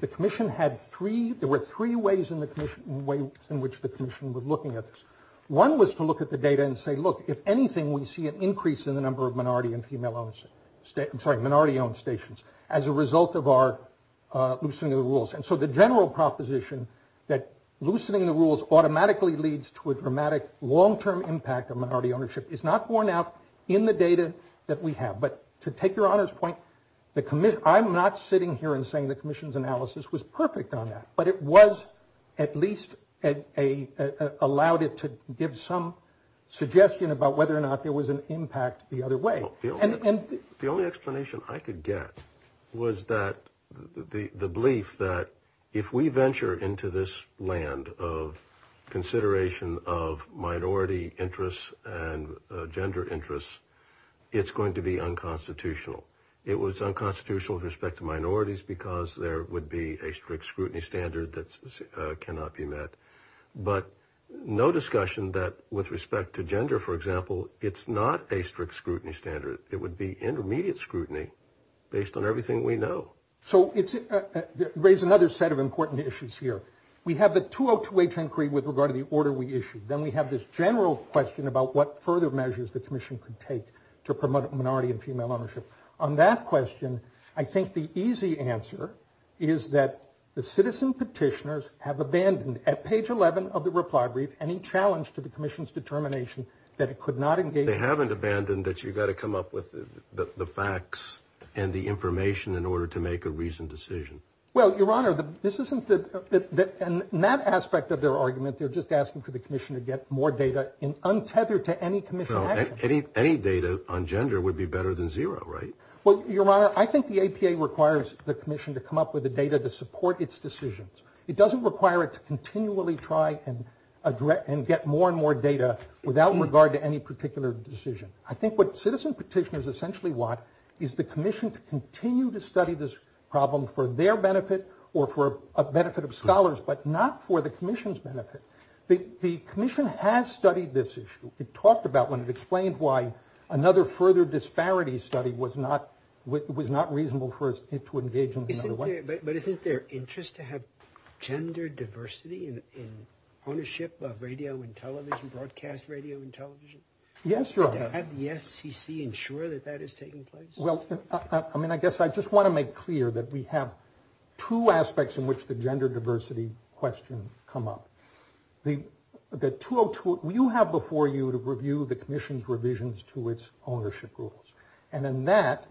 the commission had three… There were three ways in which the commission was looking at this. One was to look at the data and say, look, if anything, we see an increase in the number of minority-owned stations as a result of our loosening of the rules. And so the general proposition that loosening the rules automatically leads to a dramatic long-term impact of minority that we have. But to take your honest point, I'm not sitting here and saying the commission's analysis was perfect on that, but it was at least allowed it to give some suggestion about whether or not there was an impact the other way. The only explanation I could get was the belief that if we venture into this land of consideration of minority interests and gender interests, it's going to be unconstitutional. It was unconstitutional with respect to minorities because there would be a strict scrutiny standard that cannot be met. But no discussion that with respect to gender, for example, it's not a strict scrutiny standard. It would be intermediate scrutiny based on everything we know. So it raises another set of important issues here. We have the 202H inquiry with regard to the order we issued. Then we have this general question about what further measures the commission could take to promote minority and female ownership. On that question, I think the easy answer is that the citizen petitioners have abandoned at page 11 of the reply brief, any challenge to the commission's determination that it could not engage- They haven't abandoned that you've got to come up with the facts and the information in order to make a reasoned decision. Well, your honor, this isn't the, in that aspect of their argument, they're just asking for the untethered to any commission- Any data on gender would be better than zero, right? Well, your honor, I think the APA requires the commission to come up with the data to support its decisions. It doesn't require it to continually try and get more and more data without regard to any particular decision. I think what citizen petitioners essentially want is the commission to continue to study this problem for their benefit or for a benefit of scholars, but not for the commission's benefit. The commission has studied this issue. It talked about when it explained why another further disparity study was not reasonable for it to engage in another way. But isn't their interest to have gender diversity in ownership of radio and television, broadcast radio and television? Yes, your honor. To have the FCC ensure that that is taking place? Well, I mean, I guess I just want to make clear that we have two aspects in which the gender diversity question come up. The 202, you have before you to review the commission's revisions to its ownership rules. And in that,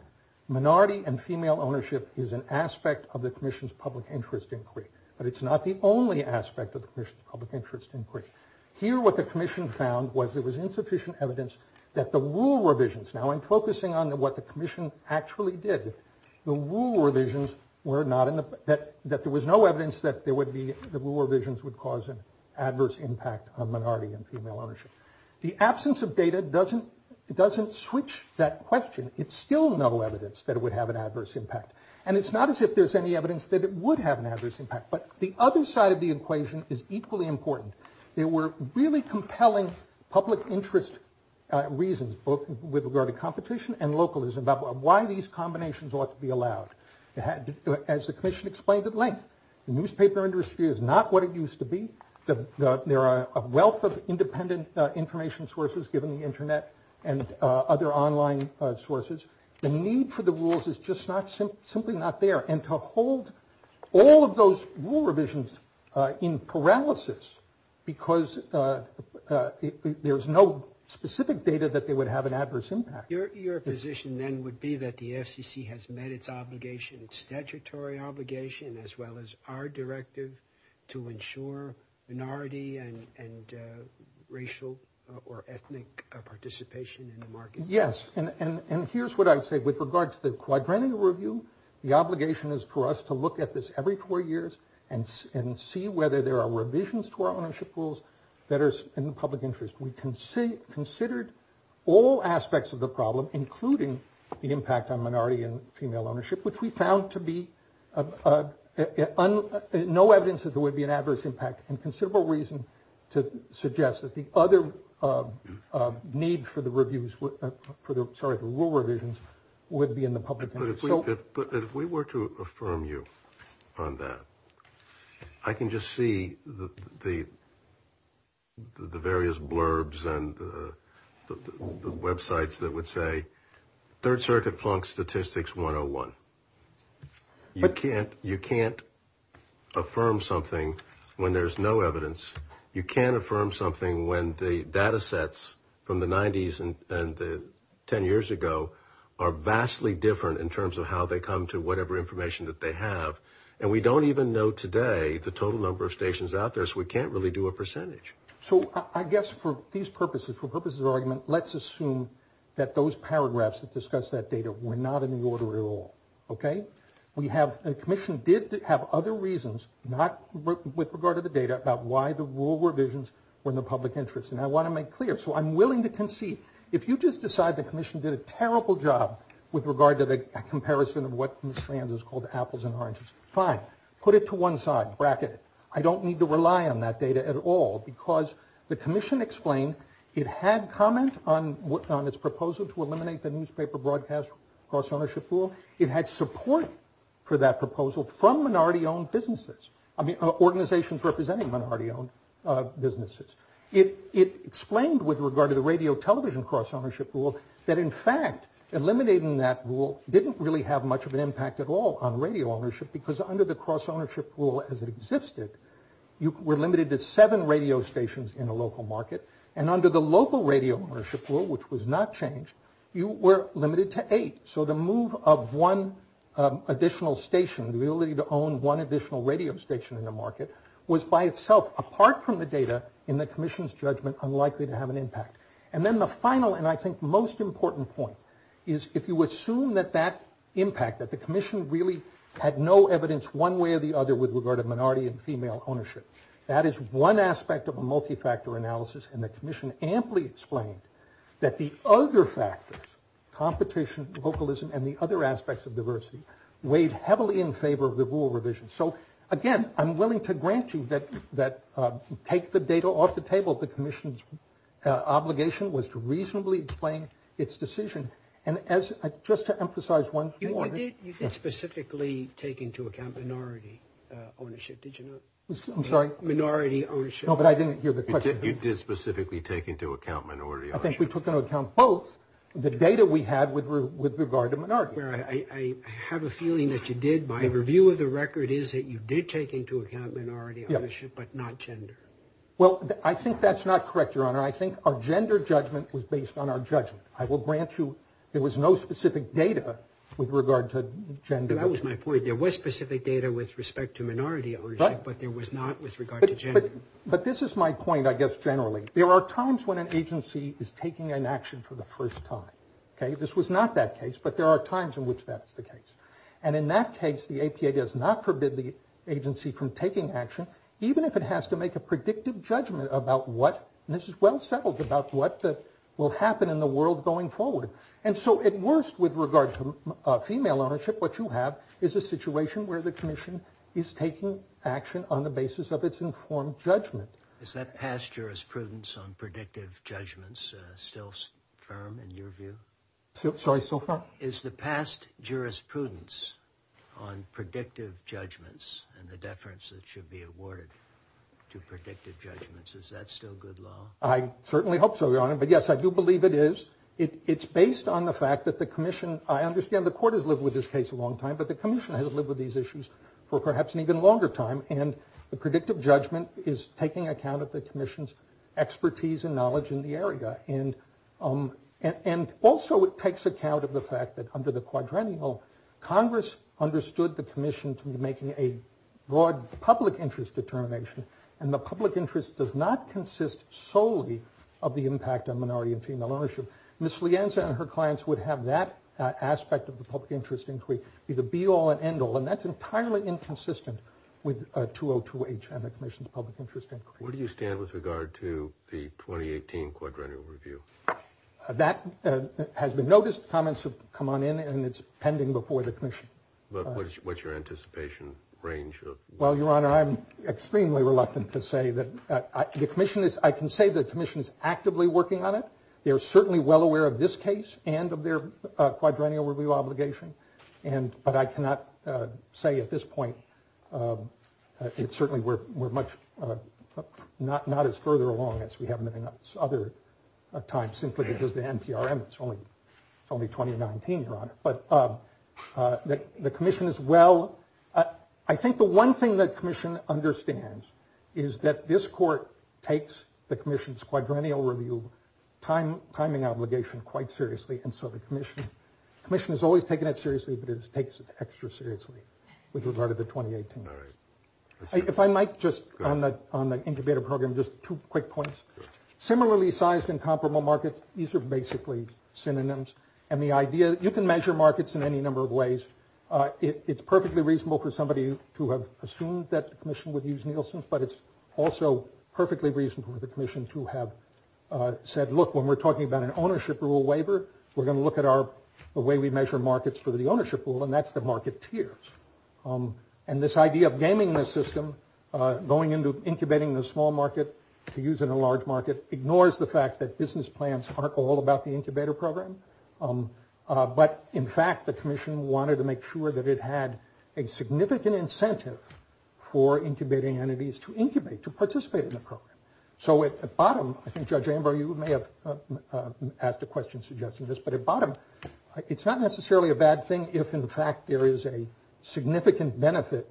minority and female ownership is an aspect of the commission's public interest inquiry. But it's not the only aspect of the commission's public interest inquiry. Here, what the commission found was there was insufficient evidence that the rule revisions- Now, I'm focusing on what the commission actually did. The rule revisions were not in the- That there was no evidence that the rule revisions would cause an adverse impact on minority and female ownership. The absence of data doesn't switch that question. It's still no evidence that it would have an adverse impact. And it's not as if there's any evidence that it would have an adverse impact. But the other side of the equation is equally important. There were really compelling public interest reasons, both with regard to competition and localism, about why these combinations ought to be allowed. As the commission explained at length, the newspaper industry is not what it used to be. There are a wealth of independent information sources, given the internet and other online sources. The need for the rules is just simply not there. And to hold all of those rule revisions in paralysis because there's no specific data that they would have an adverse impact. Your position then would be that the FCC has met its obligation, statutory obligation, as well as our directive to ensure minority and racial or ethnic participation in the market. Yes. And here's what I would say with regard to the quadrennial review, the obligation is for us to look at this every four years and see whether there are revisions to our ownership rules that are in the public interest. We considered all aspects of the problem, including the impact on minority and female ownership, which we found to be no evidence that there would be an adverse impact and considerable reason to suggest that the other need for the rule revisions would be in the public interest. If we were to affirm you on that, I can just see the various blurbs and websites that would say Third Circuit plunk statistics 101. You can't affirm something when there's no evidence. You can't affirm something when the data sets from the 90s and 10 years ago are vastly different in terms of how they come to whatever information that they have. And we don't even know today the total number of stations out there, so we can't really do a percentage. So I guess for these purposes, for purposes of argument, let's assume that those paragraphs that discuss that data were not in the order at all. Okay. We have, the commission did have other reasons, not with regard to the data, about why the rule revisions were in the public interest. And I want to make clear, so I'm willing to concede, if you just decide the commission did a terrible job with regard to the comparison of what Miss Landers called apples and oranges, fine. Put it to one side. Bracket it. I don't need to rely on that data at all, because the commission explained it had comment on its proposal to eliminate the newspaper broadcast cross-ownership rule. It had support for that proposal from minority-owned businesses, I mean, organizations representing minority-owned businesses. It explained with regard to the radio television cross-ownership rule that, in fact, eliminating that rule didn't really have much of an impact at all on radio ownership, because under the cross-ownership rule as it existed, you were limited to seven radio stations in the local market. And under the local radio ownership rule, which was not changed, you were limited to eight. So the move of one additional radio station in the market was by itself, apart from the data, in the commission's judgment, unlikely to have an impact. And then the final, and I think most important point, is if you assume that that impact, that the commission really had no evidence one way or the other with regard to minority and female ownership, that is one aspect of a multi-factor analysis. And the commission amply explained that the other factors, competition, vocalism, and the other aspects of diversity, weighed heavily in favor of the rule revision. So, again, I'm willing to grant you that to take the data off the table, the commission's obligation was to reasonably explain its decision. And as, just to emphasize one thing... You didn't specifically take into account minority ownership, did you? I'm sorry? Minority ownership. No, but I didn't hear the question. You did specifically take into account minority ownership. We took into account both the data we had with regard to minority. I have a feeling that you did. My review of the record is that you did take into account minority ownership, but not gender. Well, I think that's not correct, Your Honor. I think our gender judgment was based on our judgment. I will grant you there was no specific data with regard to gender. That was my point. There was specific data with respect to minority ownership, but there was not with regard to gender. But this is my point, I guess, generally. There are times when an agency is taking an action for the first time. This was not that case, but there are times in which that's the case. And in that case, the APA does not forbid the agency from taking action, even if it has to make a predictive judgment about what, and this is well settled, about what will happen in the world going forward. And so, at worst, with regard to female ownership, what you have is a situation where the commission is taking action on the basis of its informed judgment. Is that past jurisprudence on predictive judgments still firm in your view? Sorry, so far? Is the past jurisprudence on predictive judgments and the deference that should be awarded to predictive judgments, is that still good law? I certainly hope so, Your Honor. But yes, I do believe it is. It's based on the fact that I understand the court has lived with this case a long time, but the commission has lived with these issues for perhaps an even longer time. And the predictive judgment is taking account of the commission's expertise and knowledge in the area. And also, it takes account of the fact that under the quadrennial, Congress understood the commission to be making a broad public interest determination. And the public interest does not consist solely of the impact on minority and female ownership. Ms. Lienza and her clients would have that aspect of the public interest inquiry be the be-all and end-all. And that's entirely inconsistent with 202H and the commission's public interest inquiry. Where do you stand with regard to the 2018 quadrennial review? That has been noticed, comments have come on in, and it's pending before the commission. But what's your anticipation range? Well, Your Honor, I'm extremely reluctant to say that. I can say the commission is actively working on it. They're certainly well aware of this case and of their quadrennial review obligation. But I cannot say at this point, certainly we're not as further along as we have in other times, simply because the NPRM, it's only 2019, Your Honor. But the commission is well, I think the one thing that commission understands is that this court takes the timing obligation quite seriously. And so the commission has always taken it seriously, but it takes it extra seriously with regard to the 2018. If I might just, on the incubator program, just two quick points. Similarly sized and comparable markets, these are basically synonyms. And the idea, you can measure markets in any number of ways. It's perfectly reasonable for somebody to have assumed that the commission would use Nielsen's, but it's also perfectly reasonable for the commission to have said, look, when we're talking about an ownership rule waiver, we're going to look at the way we measure markets for the ownership rule, and that's the market tiers. And this idea of gaming the system, going into incubating the small market to use in a large market ignores the fact that business plans aren't all about the incubator program. But in fact, the commission wanted to make sure that it had a significant incentive for incubating entities to incubate, to participate in the program. So at the bottom, I think Judge Amber, you may have asked a question suggesting this, but at bottom, it's not necessarily a bad thing if in fact there is a significant benefit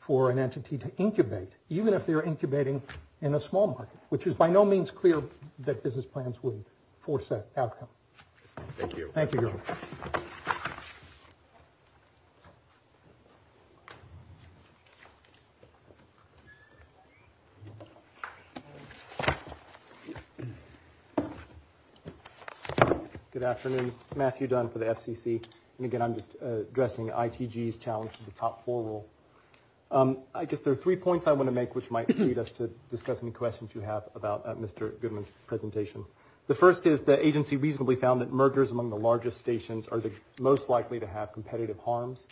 for an entity to incubate, even if they're incubating in a small market, which is by no means clear that business plans would force that outcome. Thank you. Thank you, Gordon. Good afternoon. Matthew Dunn for the FCC. And again, I'm just addressing ITG's challenge to the top four rule. I guess there are three points I want to make, which might lead us to discuss any questions you have about Mr. Goodman's presentation. The first is the agency reasonably found that mergers among the largest stations are the most likely to have competitive harms.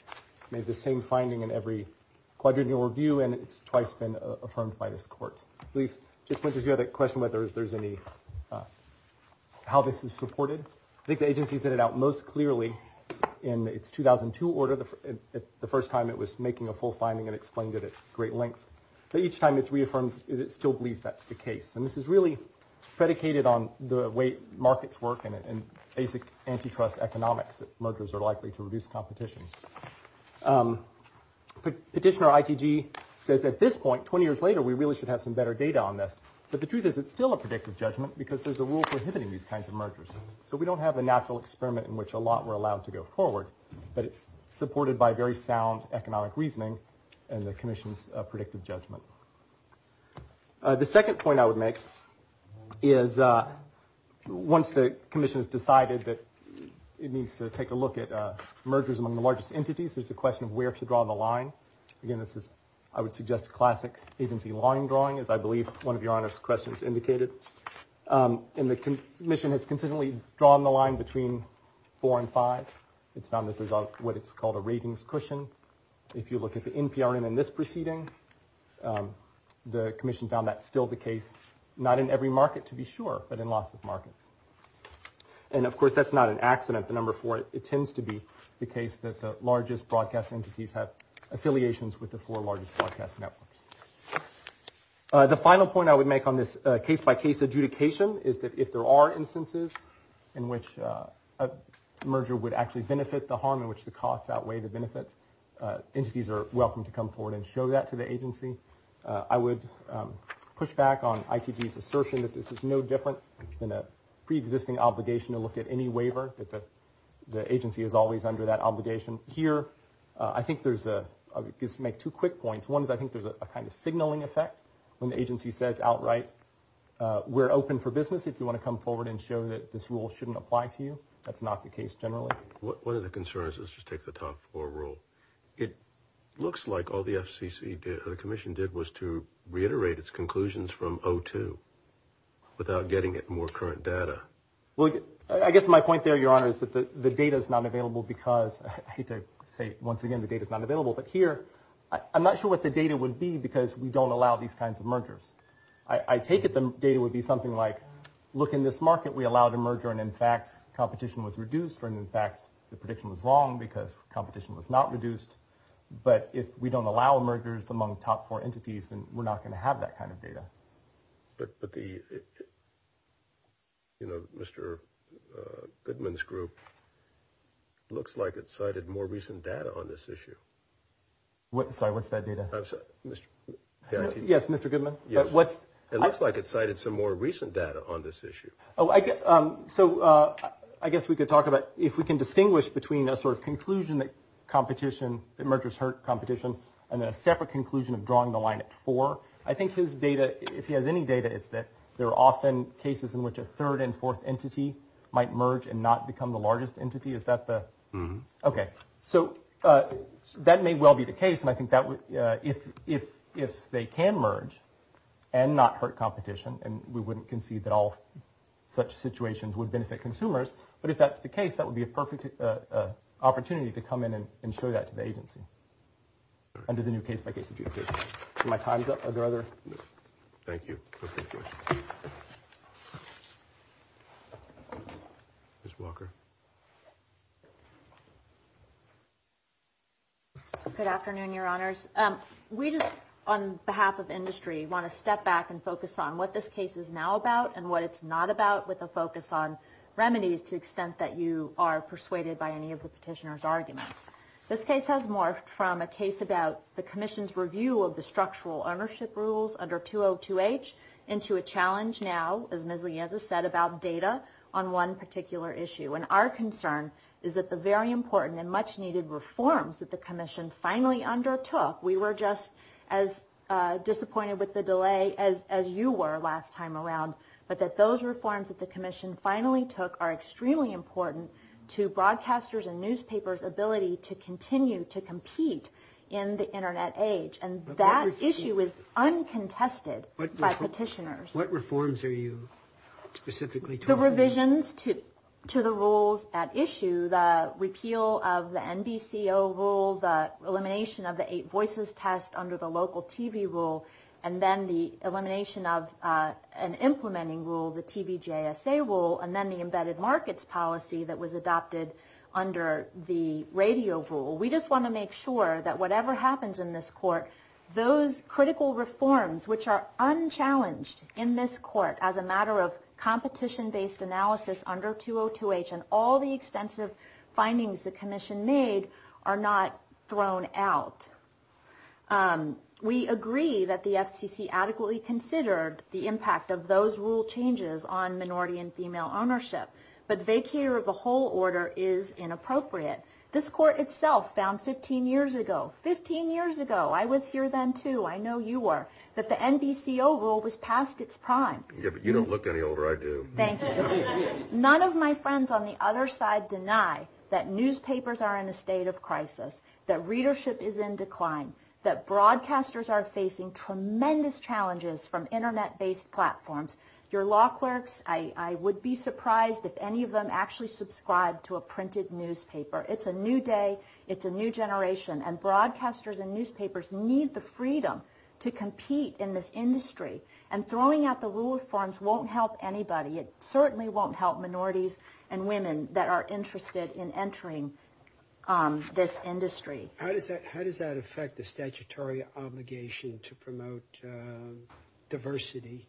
We have the same finding in every quadrennial review, and it's twice been affirmed by this court. So we just want to hear the question whether there's any – how this is supported. I think the agency put it out most clearly in its 2002 order, the first time it was making a full finding and explained it at great length. But each time it's predicated on the way markets work and basic antitrust economics that mergers are likely to reduce competition. Petitioner ITG says at this point, 20 years later, we really should have some better data on this. But the truth is it's still a predictive judgment because there's a rule prohibiting these kinds of mergers. So we don't have a natural experiment in which a lot were allowed to go forward, but it's supported by very sound economic reasoning and the commission's predictive judgment. The second point I would make is once the commission has decided that it needs to take a look at mergers among the largest entities, there's the question of where to draw the line. Again, this is – I would suggest classic agency line drawing, as I believe one of Your Honor's questions indicated. And the commission has consistently drawn the line between four and five. It's found this is what is called a ratings cushion. If you look at the – the commission found that's still the case, not in every market to be sure, but in lots of markets. And of course, that's not an accident, the number four. It tends to be the case that the largest broadcast entities have affiliations with the four largest broadcast networks. The final point I would make on this case-by-case adjudication is that if there are instances in which a merger would actually benefit, the harm in which the cost outweigh the benefit, entities are welcome to come forward and show that to the agency. I would push back on ITG's assertion that this is no different than a pre-existing obligation to look at any waiver because the agency is always under that obligation. Here, I think there's a – I'll just make two quick points. One is I think there's a kind of signaling effect when the agency says outright we're open for business if you want to come forward and show that this rule shouldn't apply to you. That's not the case generally. One of the concerns – let's just take the top four rule. It looks like all the FCC did, or the commission did, was to reiterate its conclusions from 02 without getting at more current data. Well, I guess my point there, Your Honor, is that the data is not available because – I hate to say it once again, the data is not available. But here, I'm not sure what the data would be because we don't allow these kinds of mergers. I take it the data would be something like, look, in this market we allow the merger and, in fact, competition was reduced or, in fact, the prediction was wrong because competition was not reduced. But if we don't allow mergers among top four entities, then we're not going to have that kind of data. But the – Mr. Goodman's group, it looks like it cited more recent data on this issue. Sorry, what's that data? Yes, Mr. Goodman. It looks like it cited some more recent data on this issue. Oh, I guess – so I guess we could talk about if we can distinguish between a sort of conclusion that competition – that mergers hurt competition and then a separate conclusion of drawing the line at four. I think his data, if he has any data, is that there are often cases in which a third and fourth entity might merge and not become the largest entity. Is that the – okay. So that may well be the case, and I think that would – if they can merge and not hurt competition, and we wouldn't concede that all such situations would benefit consumers, but if that's the case, that would be a perfect opportunity to come in and show that to the agency under the new case-by-case approach. Do my times up? Are there other – Thank you. Perfect question. Ms. Walker. Good afternoon, Your Honors. We just, on behalf of industry, want to step back and focus on what this case is now about and what it's not about with a focus on remedies to the extent that you are persuaded by any of the petitioner's arguments. This case has morphed from a case about the into a challenge now, as Ms. Lianza said, about data on one particular issue. And our concern is that the very important and much-needed reforms that the commission finally undertook – we were just as disappointed with the delay as you were last time around – but that those reforms that the commission finally took are extremely important to broadcasters' and newspapers' ability to What reforms are you specifically talking about? The revisions to the rules at issue, the repeal of the NBCO rule, the elimination of the eight voices test under the local TV rule, and then the elimination of an implementing rule, the TVJSA rule, and then the embedded markets policy that was adopted under the radio rule. We just want to make sure that whatever happens in this court, those critical reforms, which are unchallenged in this court as a matter of competition-based analysis under 202H and all the extensive findings the commission made, are not thrown out. We agree that the FCC adequately considered the impact of those rule changes on minority and female ownership, but vacating the whole order is inappropriate. This court itself found 15 years ago – 15 years ago, I was here then too, I know you were – that the NBCO rule was past its prime. You don't look any older, I do. Thank you. None of my friends on the other side deny that newspapers are in a state of crisis, that readership is in decline, that broadcasters are facing tremendous challenges from internet-based platforms. Your law clerks, I would be surprised if any of them actually subscribe to a printed newspaper. It's a new day, it's a new generation, and broadcasters and newspapers need the freedom to compete in this industry, and throwing out the rule of forms won't help anybody. It certainly won't help minorities and women that are interested in entering this industry. How does that affect the statutory obligation to promote diversity?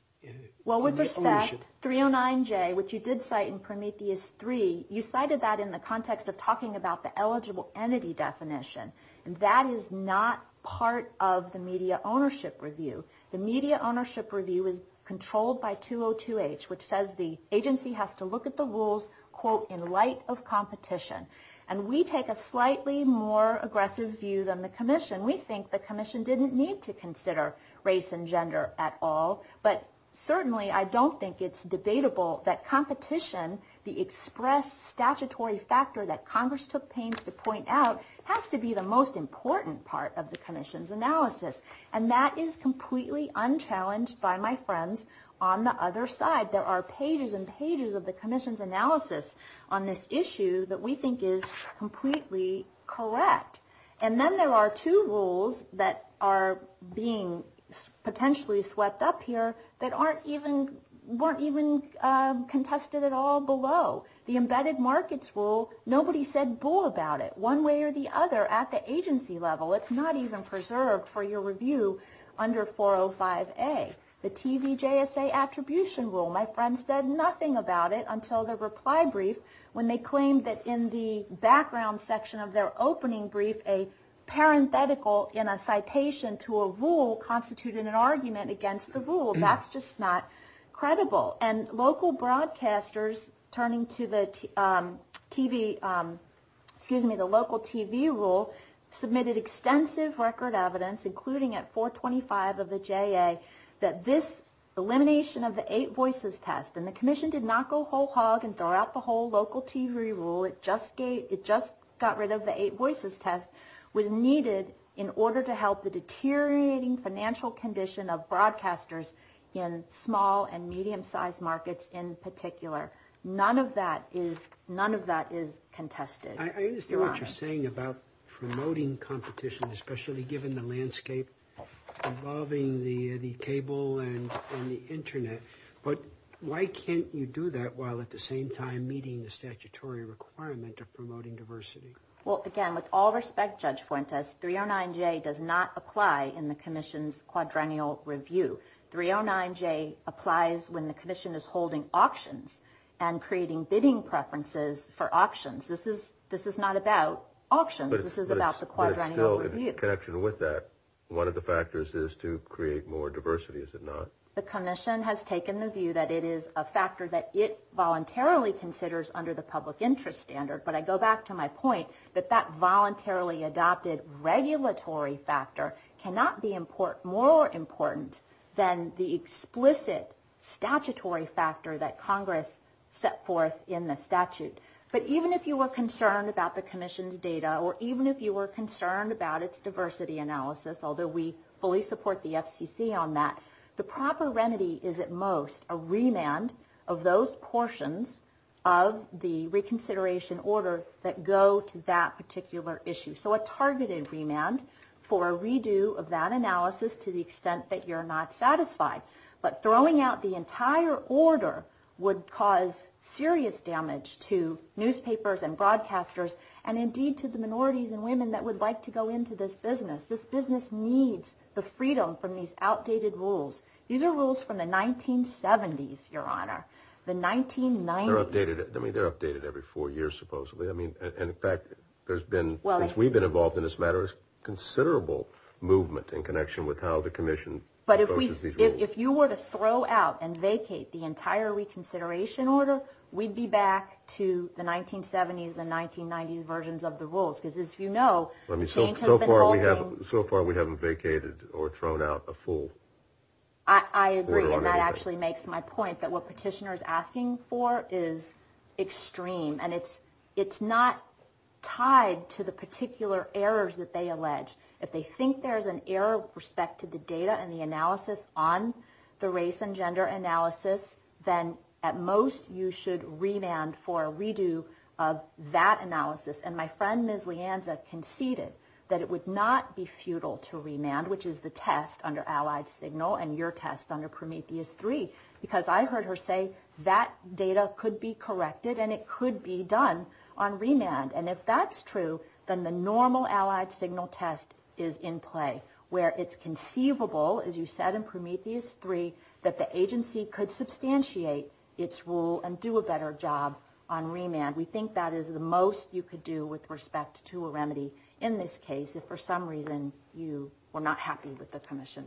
Well, with respect, 309J, which you did cite in Prometheus 3, you cited that in the context of talking about the eligible entity definition, and that is not part of the media ownership review. The media ownership review is controlled by 202H, which says the agency has to look at the rules, quote, in light of competition. And we take a slightly more aggressive view than the commission. We think the commission didn't need to consider race and gender at all, but certainly I don't think it's debatable that competition, the expressed statutory factor that Congress took pains to point out, has to be the most important part of the commission's analysis. And that is completely unchallenged by my friends on the other side. There are pages and pages of the commission's analysis on this issue that we think is completely correct. And then there are two rules that are being potentially swept up here that aren't even, weren't even contested at all below. The embedded markets rule, nobody said bull about it one way or the other at the agency level. It's not even preserved for your review under 405A. The TVJSA attribution rule, my friends said nothing about it until the reply brief when they claimed that in the background section of their opening brief, a parenthetical in a citation to a rule constituted an argument against the rule. That's just not credible. And local broadcasters turning to the TV, excuse me, the local TV rule submitted extensive record evidence, including at 425 of the JA, that this elimination of the eight voices test, and the commission did not go whole hog and throw out the whole local TV rule. It just got rid of the eight voices test was needed in order to help the deteriorating financial condition of broadcasters in small and medium-sized markets in particular. None of that is contested. I understand what you're saying about promoting competition, especially given the landscape involving the cable and the internet, but why can't you do that while at the same time meeting the statutory requirement of promoting diversity? Well, again, with all respect, Judge Fuentes, 309J does not apply in the commission's quadrennial review. 309J applies when the commission is holding auctions and creating bidding preferences for auctions. This is not about auctions. This is about the quadrennial review. In connection with that, one of the factors is to create more diversity, is it not? The commission has taken the view that it is a factor that it voluntarily considers under the public interest standard, but I go back to my point that that voluntarily adopted regulatory factor cannot be more important than the explicit statutory factor that Congress set forth in the statute. But even if you were concerned about the commission's data or even if you were concerned about its diversity analysis, although we fully support the FCC on that, the proper remedy is at most a remand of those portions of the reconsideration order that go to that particular issue. So a targeted remand for a redo of that analysis to the extent that you're not satisfied. But throwing out the entire order would cause serious damage to newspapers and broadcasters, and indeed to the minorities and women that would like to go into this business. This business needs the freedom from these outdated rules. These are rules from the 1970s, Your Honor. The 1990s. They're updated. I mean, they're updated every four years, supposedly. I mean, in fact, there's been, since we've been involved in this matter, a considerable movement in connection with how the commission approaches these rules. But if you were to throw out and vacate the entire reconsideration order, we'd be back to the 1970s and 1990s versions of the rules. Because as you know, the change has been evolving. So far, we haven't vacated or thrown out a full order. I agree, and that actually makes my point. But what Petitioner is asking for is extreme, and it's not tied to the particular errors that they allege. If they think there's an error with respect to the data and the analysis on the race and gender analysis, then at most, you should remand for a redo of that analysis. And my friend, Ms. Leanza, conceded that it would not be futile to remand, which is the test under Allied Signal and your test under Prometheus 3, because I heard her say that data could be corrected and it could be done on remand. And if that's true, then the normal Allied Signal test is in play, where it's conceivable, as you said in Prometheus 3, that the agency could substantiate its rule and do a better job on remand. We think that is the most you could do with respect to a remedy in this case, if for some reason you were not happy with the answer.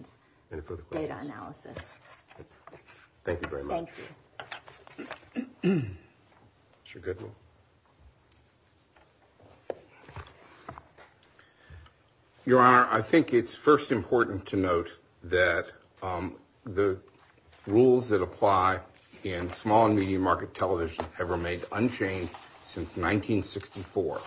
Your Honor, I think it's first important to note that the rules that apply in small and medium market television have remained unchanged since 1964,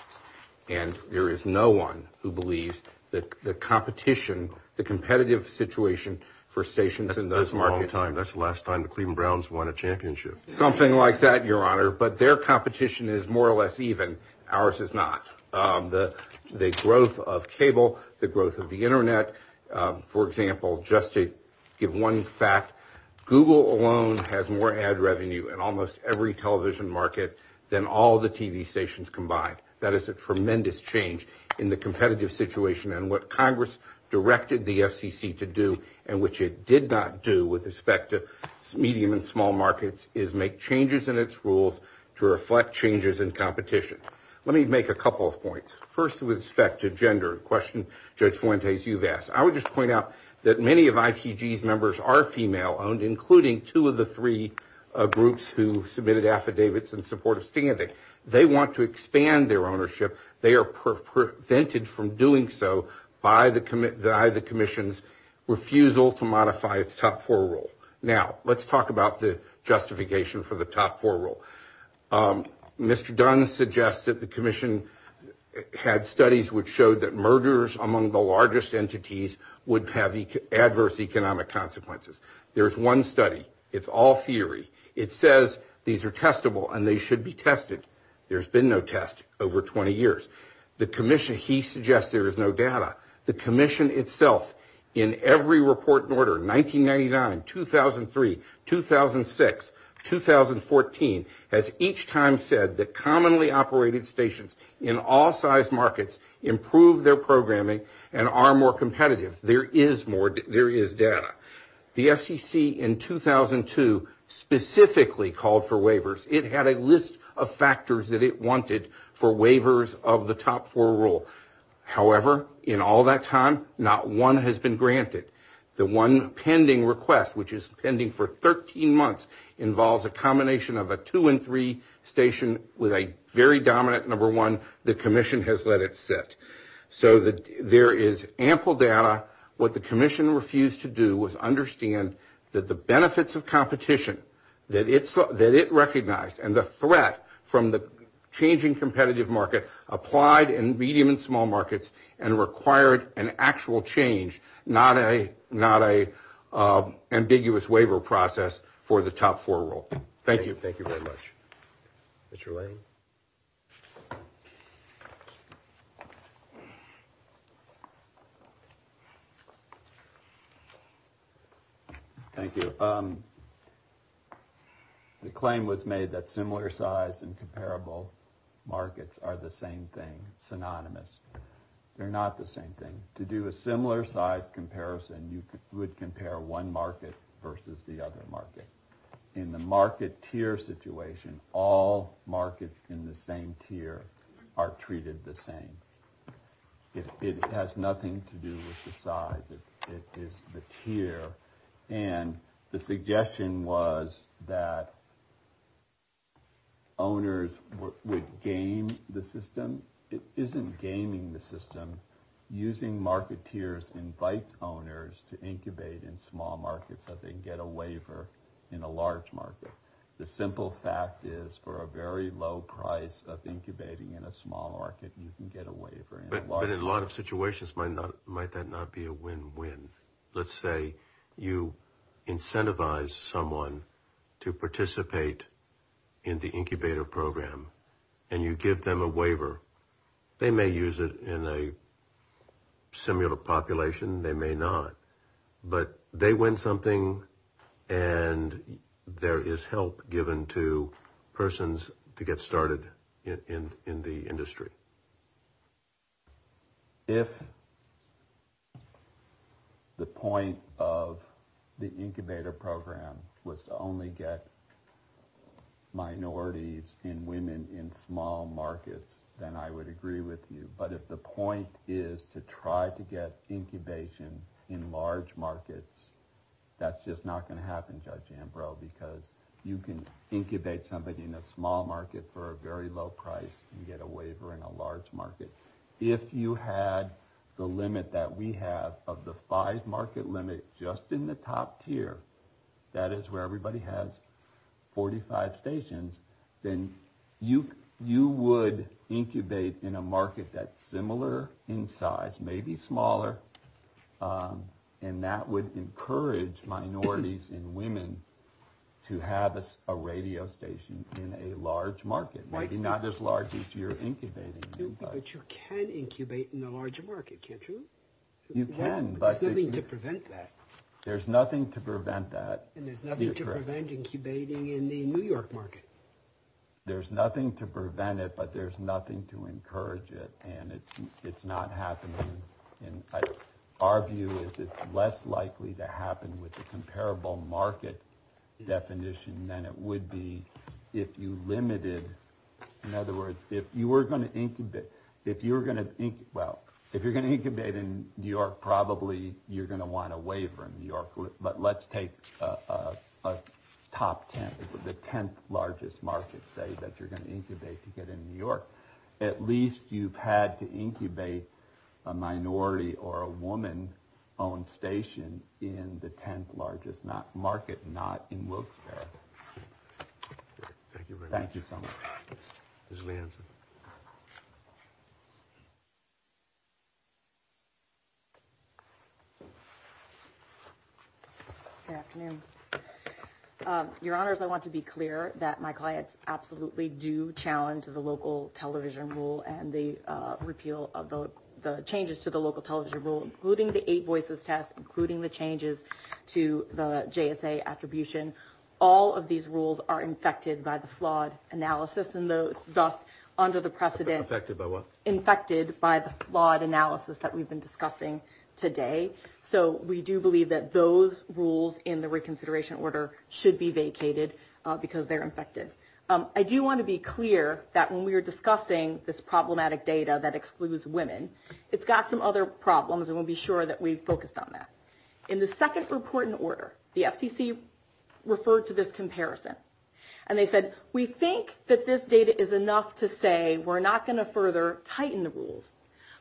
and there is no one who believes that the competition, the competitive situation for stations in those markets... That's the last time Cleveland Browns won a championship. Something like that, Your Honor, but their competition is more or less even. Ours is not. The growth of cable, the growth of the internet, for example, just to give one fact, Google alone has more ad revenue in almost every television market than all the TV stations combined. That is a tremendous change in the competitive situation and what in small markets is make changes in its rules to reflect changes in competition. Let me make a couple of points. First, with respect to gender, a question Judge Fuentes, you've asked, I would just point out that many of IPG's members are female owned, including two of the three groups who submitted affidavits in support of standing. They want to expand their ownership. They are prevented from doing so by the commission's refusal to modify its top four rule. Now, let's talk about the justification for the top four rule. Mr. Dunn suggests that the commission had studies which showed that murderers among the largest entities would have adverse economic consequences. There is one study. It's all theory. It says these are testable and they should be tested. There's been no test over 20 years. The commission, he suggests there is no test. The FCC in 2003, 2006, 2014, has each time said that commonly operated stations in all size markets improve their programming and are more competitive. There is data. The FCC in 2002 specifically called for waivers. It had a list of factors that it wanted for waivers of the top four rule. However, in all that time, not one has been granted. The one pending request, which is pending for 13 months, involves a combination of a two and three station with a very dominant number one. The commission has let it sit. So there is ample data. What the commission refused to do was understand that the benefits of competition that it recognized and the threat from the changing competitive market applied in medium and small markets and required an actual change, not an ambiguous waiver process for the top four rule. Thank you. Thank you very much. Mr. Wade. Thank you. The claim was made that similar size and comparable markets are the same thing, synonymous. They're not the same thing. To do a similar size comparison, you would compare one versus the other market. In the market tier situation, all markets in the same tier are treated the same. It has nothing to do with the size. It's the tier. And the suggestion was that owners would game the system. It isn't gaming the system. Using market tiers invites owners to incubate in small markets so they can get a waiver in a large market. The simple fact is, for a very low price of incubating in a small market, you can get a waiver. But in a lot of situations, might that not be a win-win? Let's say you incentivize someone to participate in the incubator program and you give them a waiver. They may use it in a similar population. They may not. But they win something and there is help given to persons to get started in the industry. If the point of the incubator program was to only get minorities in women in small markets, then I would agree with you. But if the point is to try to get incubation in large markets, that's just not going to happen, Judge Ambrose, because you can incubate somebody in a small market for a very low price and get a waiver in a large market. If you had the limit that we have of the five market limit just in the top tier, that is where everybody has 45 stations, then you would incubate in a market that's similar in size, maybe smaller, and that would encourage minorities and women to have a radio station in a large market, maybe not as large as you're incubating. But you can incubate in a larger market, can't you? You can, but there's nothing to prevent that. There's nothing to prevent that. And there's nothing to prevent incubating in the New York market. There's nothing to prevent it, but there's nothing to encourage it. And it's not happening. And our view is it's less likely to happen with a comparable market definition than it would be if you limited, in other words, if you were going to incubate, if you're going to, well, if you're going to incubate in New York, probably you're going to want a waiver in New York. But let's take a top 10, the 10th largest market, say, that you're going to incubate to get in New York. At least you've had to incubate a minority or a woman-owned station in the 10th largest market, not in Wilkes-Barre. Thank you very much. Thank you so much. Ms. Williamson. Good afternoon. Your Honors, I want to be clear that my clients absolutely do challenge the local television rule and the repeal of the changes to the local television rule, including the eight distribution. All of these rules are infected by the flawed analysis and thus under the precedent. Infected by what? Infected by the flawed analysis that we've been discussing today. So we do believe that those rules in the reconsideration order should be vacated because they're infected. I do want to be clear that when we were discussing this problematic data that excludes women, it's got some other problems. And we'll be sure that we focus on that. In the second report in order, the FTC referred to this comparison. And they said, we think that this data is enough to say we're not going to further tighten the rules.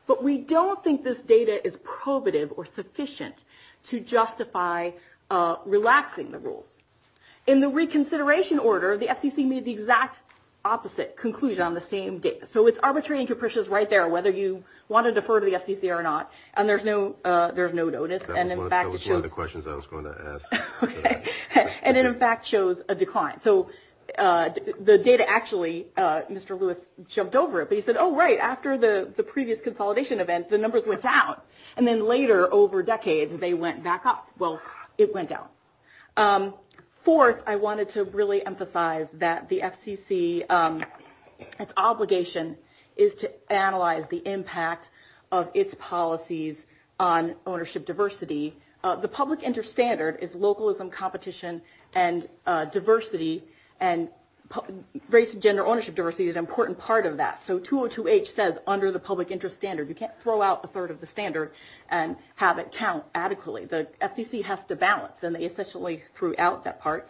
But we don't think this data is probative or sufficient to justify relaxing the rules. In the reconsideration order, the FTC made the exact opposite conclusion on the same data. So it's arbitrary and capricious right there whether you want to defer to the FTC or not. And there's no notice. And in fact, it shows a decline. So the data actually, Mr. Lewis jumped over it. But he said, oh, right, after the previous consolidation event, the numbers went down. And then later over decades, they went back up. Well, it went down. Fourth, I wanted to really emphasize that the FTC, its obligation is to analyze the impact of its policies on ownership diversity. The public interest standard is localism, competition, and diversity. And race and gender ownership diversity is an important part of that. So 202H says under the public interest standard, you can't throw out a third of the standard and have it count adequately. The FTC has to balance. And they essentially threw out that part.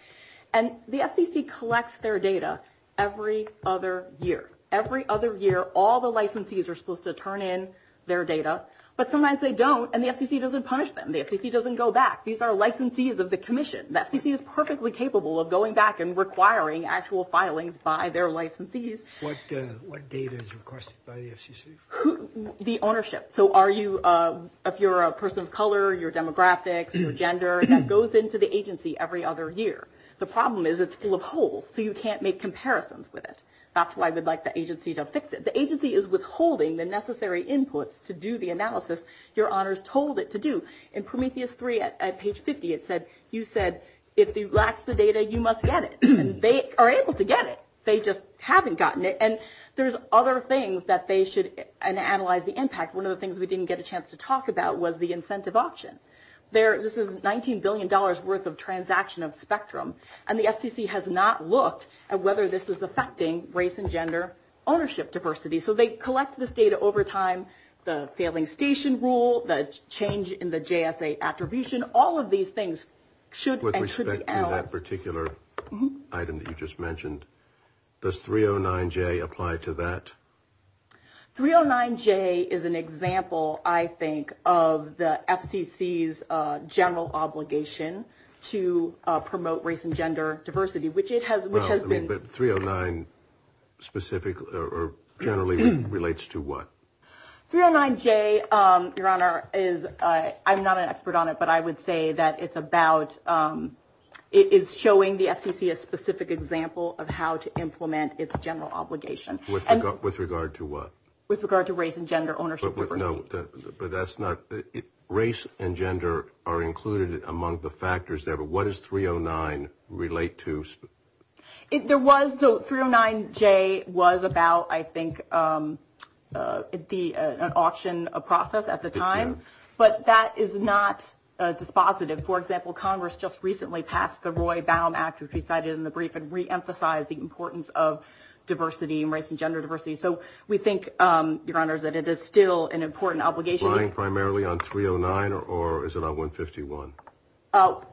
And the FTC collects their data every other year. Every other year, all the licensees are supposed to turn in their data. But sometimes they don't. And the FTC doesn't punish them. The FTC doesn't go back. These are licensees of the commission. The FTC is perfectly capable of going back and requiring actual filings by their licensees. What data is requested by the FTC? The ownership. So if you're a person of color, your demographics, your gender, that goes into the agency every other year. The problem is it's full of holes. So you can't make comparisons with it. That's why we'd like the agency to fix it. The agency is withholding the necessary input to do the analysis your honors told it to do. In Prometheus 3 at page 50, it said, you said, if you lack the data, you must get it. And they are able to get it. They just haven't gotten it. And there's other things that they should analyze the impact. One of the things we didn't get a chance to talk about was the incentive option. This is $19 billion worth of transaction of spectrum. And the FTC has not looked at whether this is affecting race and gender ownership diversity. So they collect this data over time, the failing station rule, the change in the JSA attribution, all of these things should. With respect to that particular item that you just mentioned, does 309J apply to that? 309J is an example, I think, of the FTC's general obligation to promote race and gender diversity, which it has been. But 309 specific or generally relates to what? 309J, your honor, is, I'm not an expert on it, but I would say that it's about, it's showing the FTC a specific example of how to implement its general obligation. With regard to what? With regard to race and gender ownership. But that's not, race and gender are included among the factors there. But what does 309 relate to? There was, so 309J was about, I think, the auction process at the time. But that is not dispositive. For example, Congress just recently passed the Roy Baum Act, which we cited in the brief, and re-emphasized the importance of diversity and race and gender diversity. So we think, your honor, that it is still an important obligation. Relying primarily on 309 or is it on 151?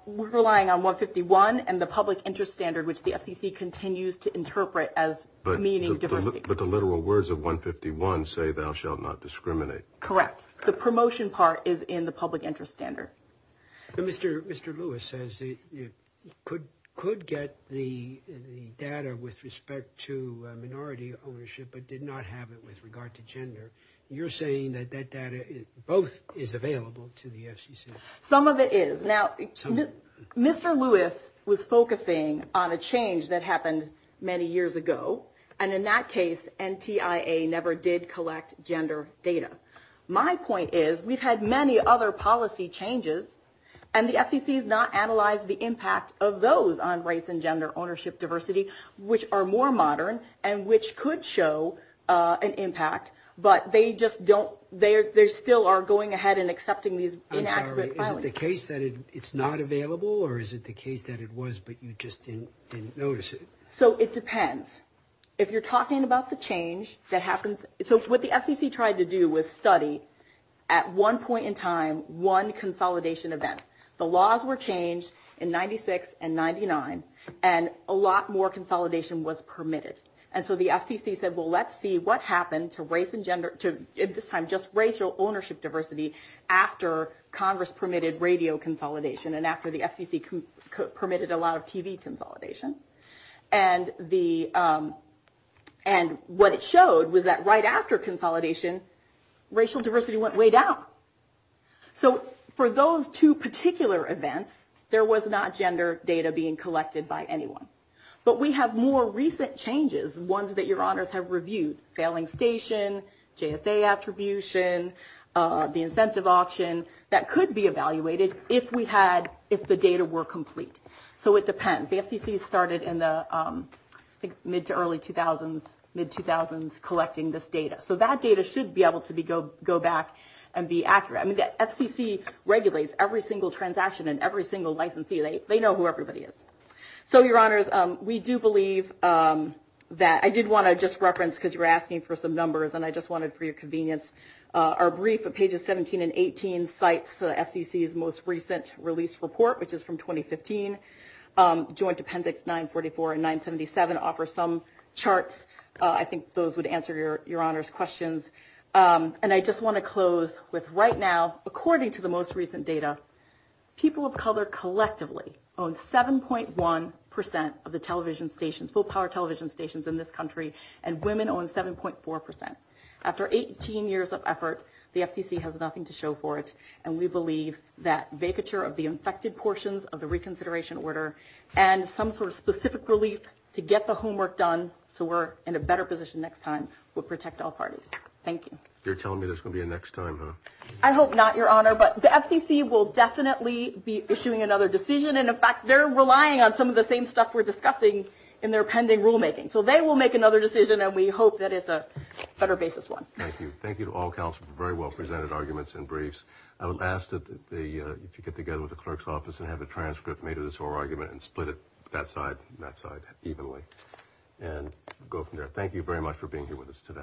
We're relying on 151 and the public interest standard, which the FTC continues to interpret as meaning diversity. But the literal words of 151 say, thou shalt not discriminate. Correct. The promotion part is in the public interest standard. Mr. Lewis says it could get the data with respect to minority ownership, but did not have it with regard to gender. You're saying that that data both is available to the FCC? Some of it is. Now, Mr. Lewis was focusing on a change that happened many years ago. And in that case, NTIA never did collect gender data. My point is, we've had many other policy changes and the FCC has not analyzed the impact of those on race and gender ownership diversity, which are more modern and which could show an impact. But they just don't, they still are going ahead and accepting these. I'm sorry, is it the case that it's not available or is it the case that it was, but you just didn't notice it? So it depends. If you're talking about the change that happens, so what the FCC tried to do was study at one point in time, one consolidation event. The laws were changed in 96 and 99 and a lot more consolidation was at this time, just racial ownership diversity after Congress permitted radio consolidation and after the FCC permitted a lot of TV consolidation. And what it showed was that right after consolidation, racial diversity went way down. So for those two particular events, there was not gender data being collected by anyone. But we have more recent changes, ones that your honors have reviewed, failing station, JSA attribution, the incentive option that could be evaluated if we had, if the data were complete. So it depends. The FCC started in the mid to early 2000s collecting this data. So that data should be able to go back and be accurate. I mean, the FCC regulates every single transaction and every single licensee. They know who everybody is. So your honors, we do believe that I did want to just reference, because you're asking for some numbers and I just wanted for your convenience, our brief at pages 17 and 18 cites the FCC's most recent release report, which is from 2015. Joint appendix 944 and 977 offer some charts. I think those would answer your honors questions. And I just want to close with right now, according to the most recent data, people of color collectively own 7.1% of the television stations, full power television stations in this country, and women own 7.4%. After 18 years of effort, the FCC has nothing to show for it. And we believe that vacature of the infected portions of the reconsideration order and some sort of specific relief to get the homework done so we're in a better position next time will protect all parties. Thank you. You're telling me this will be a next time, huh? I hope not, your honor, but the FCC will definitely be issuing another decision. And in fact, they're relying on some of the same stuff we're discussing in their pending rulemaking. So they will make another decision and we hope that it's a better basis one. Thank you. Thank you to all counsel for very well presented arguments and briefs. I would ask that they get together with the clerk's office and have a transcript made of this whole argument and split it that side and that side evenly and go from there. Thank you for being here with us today.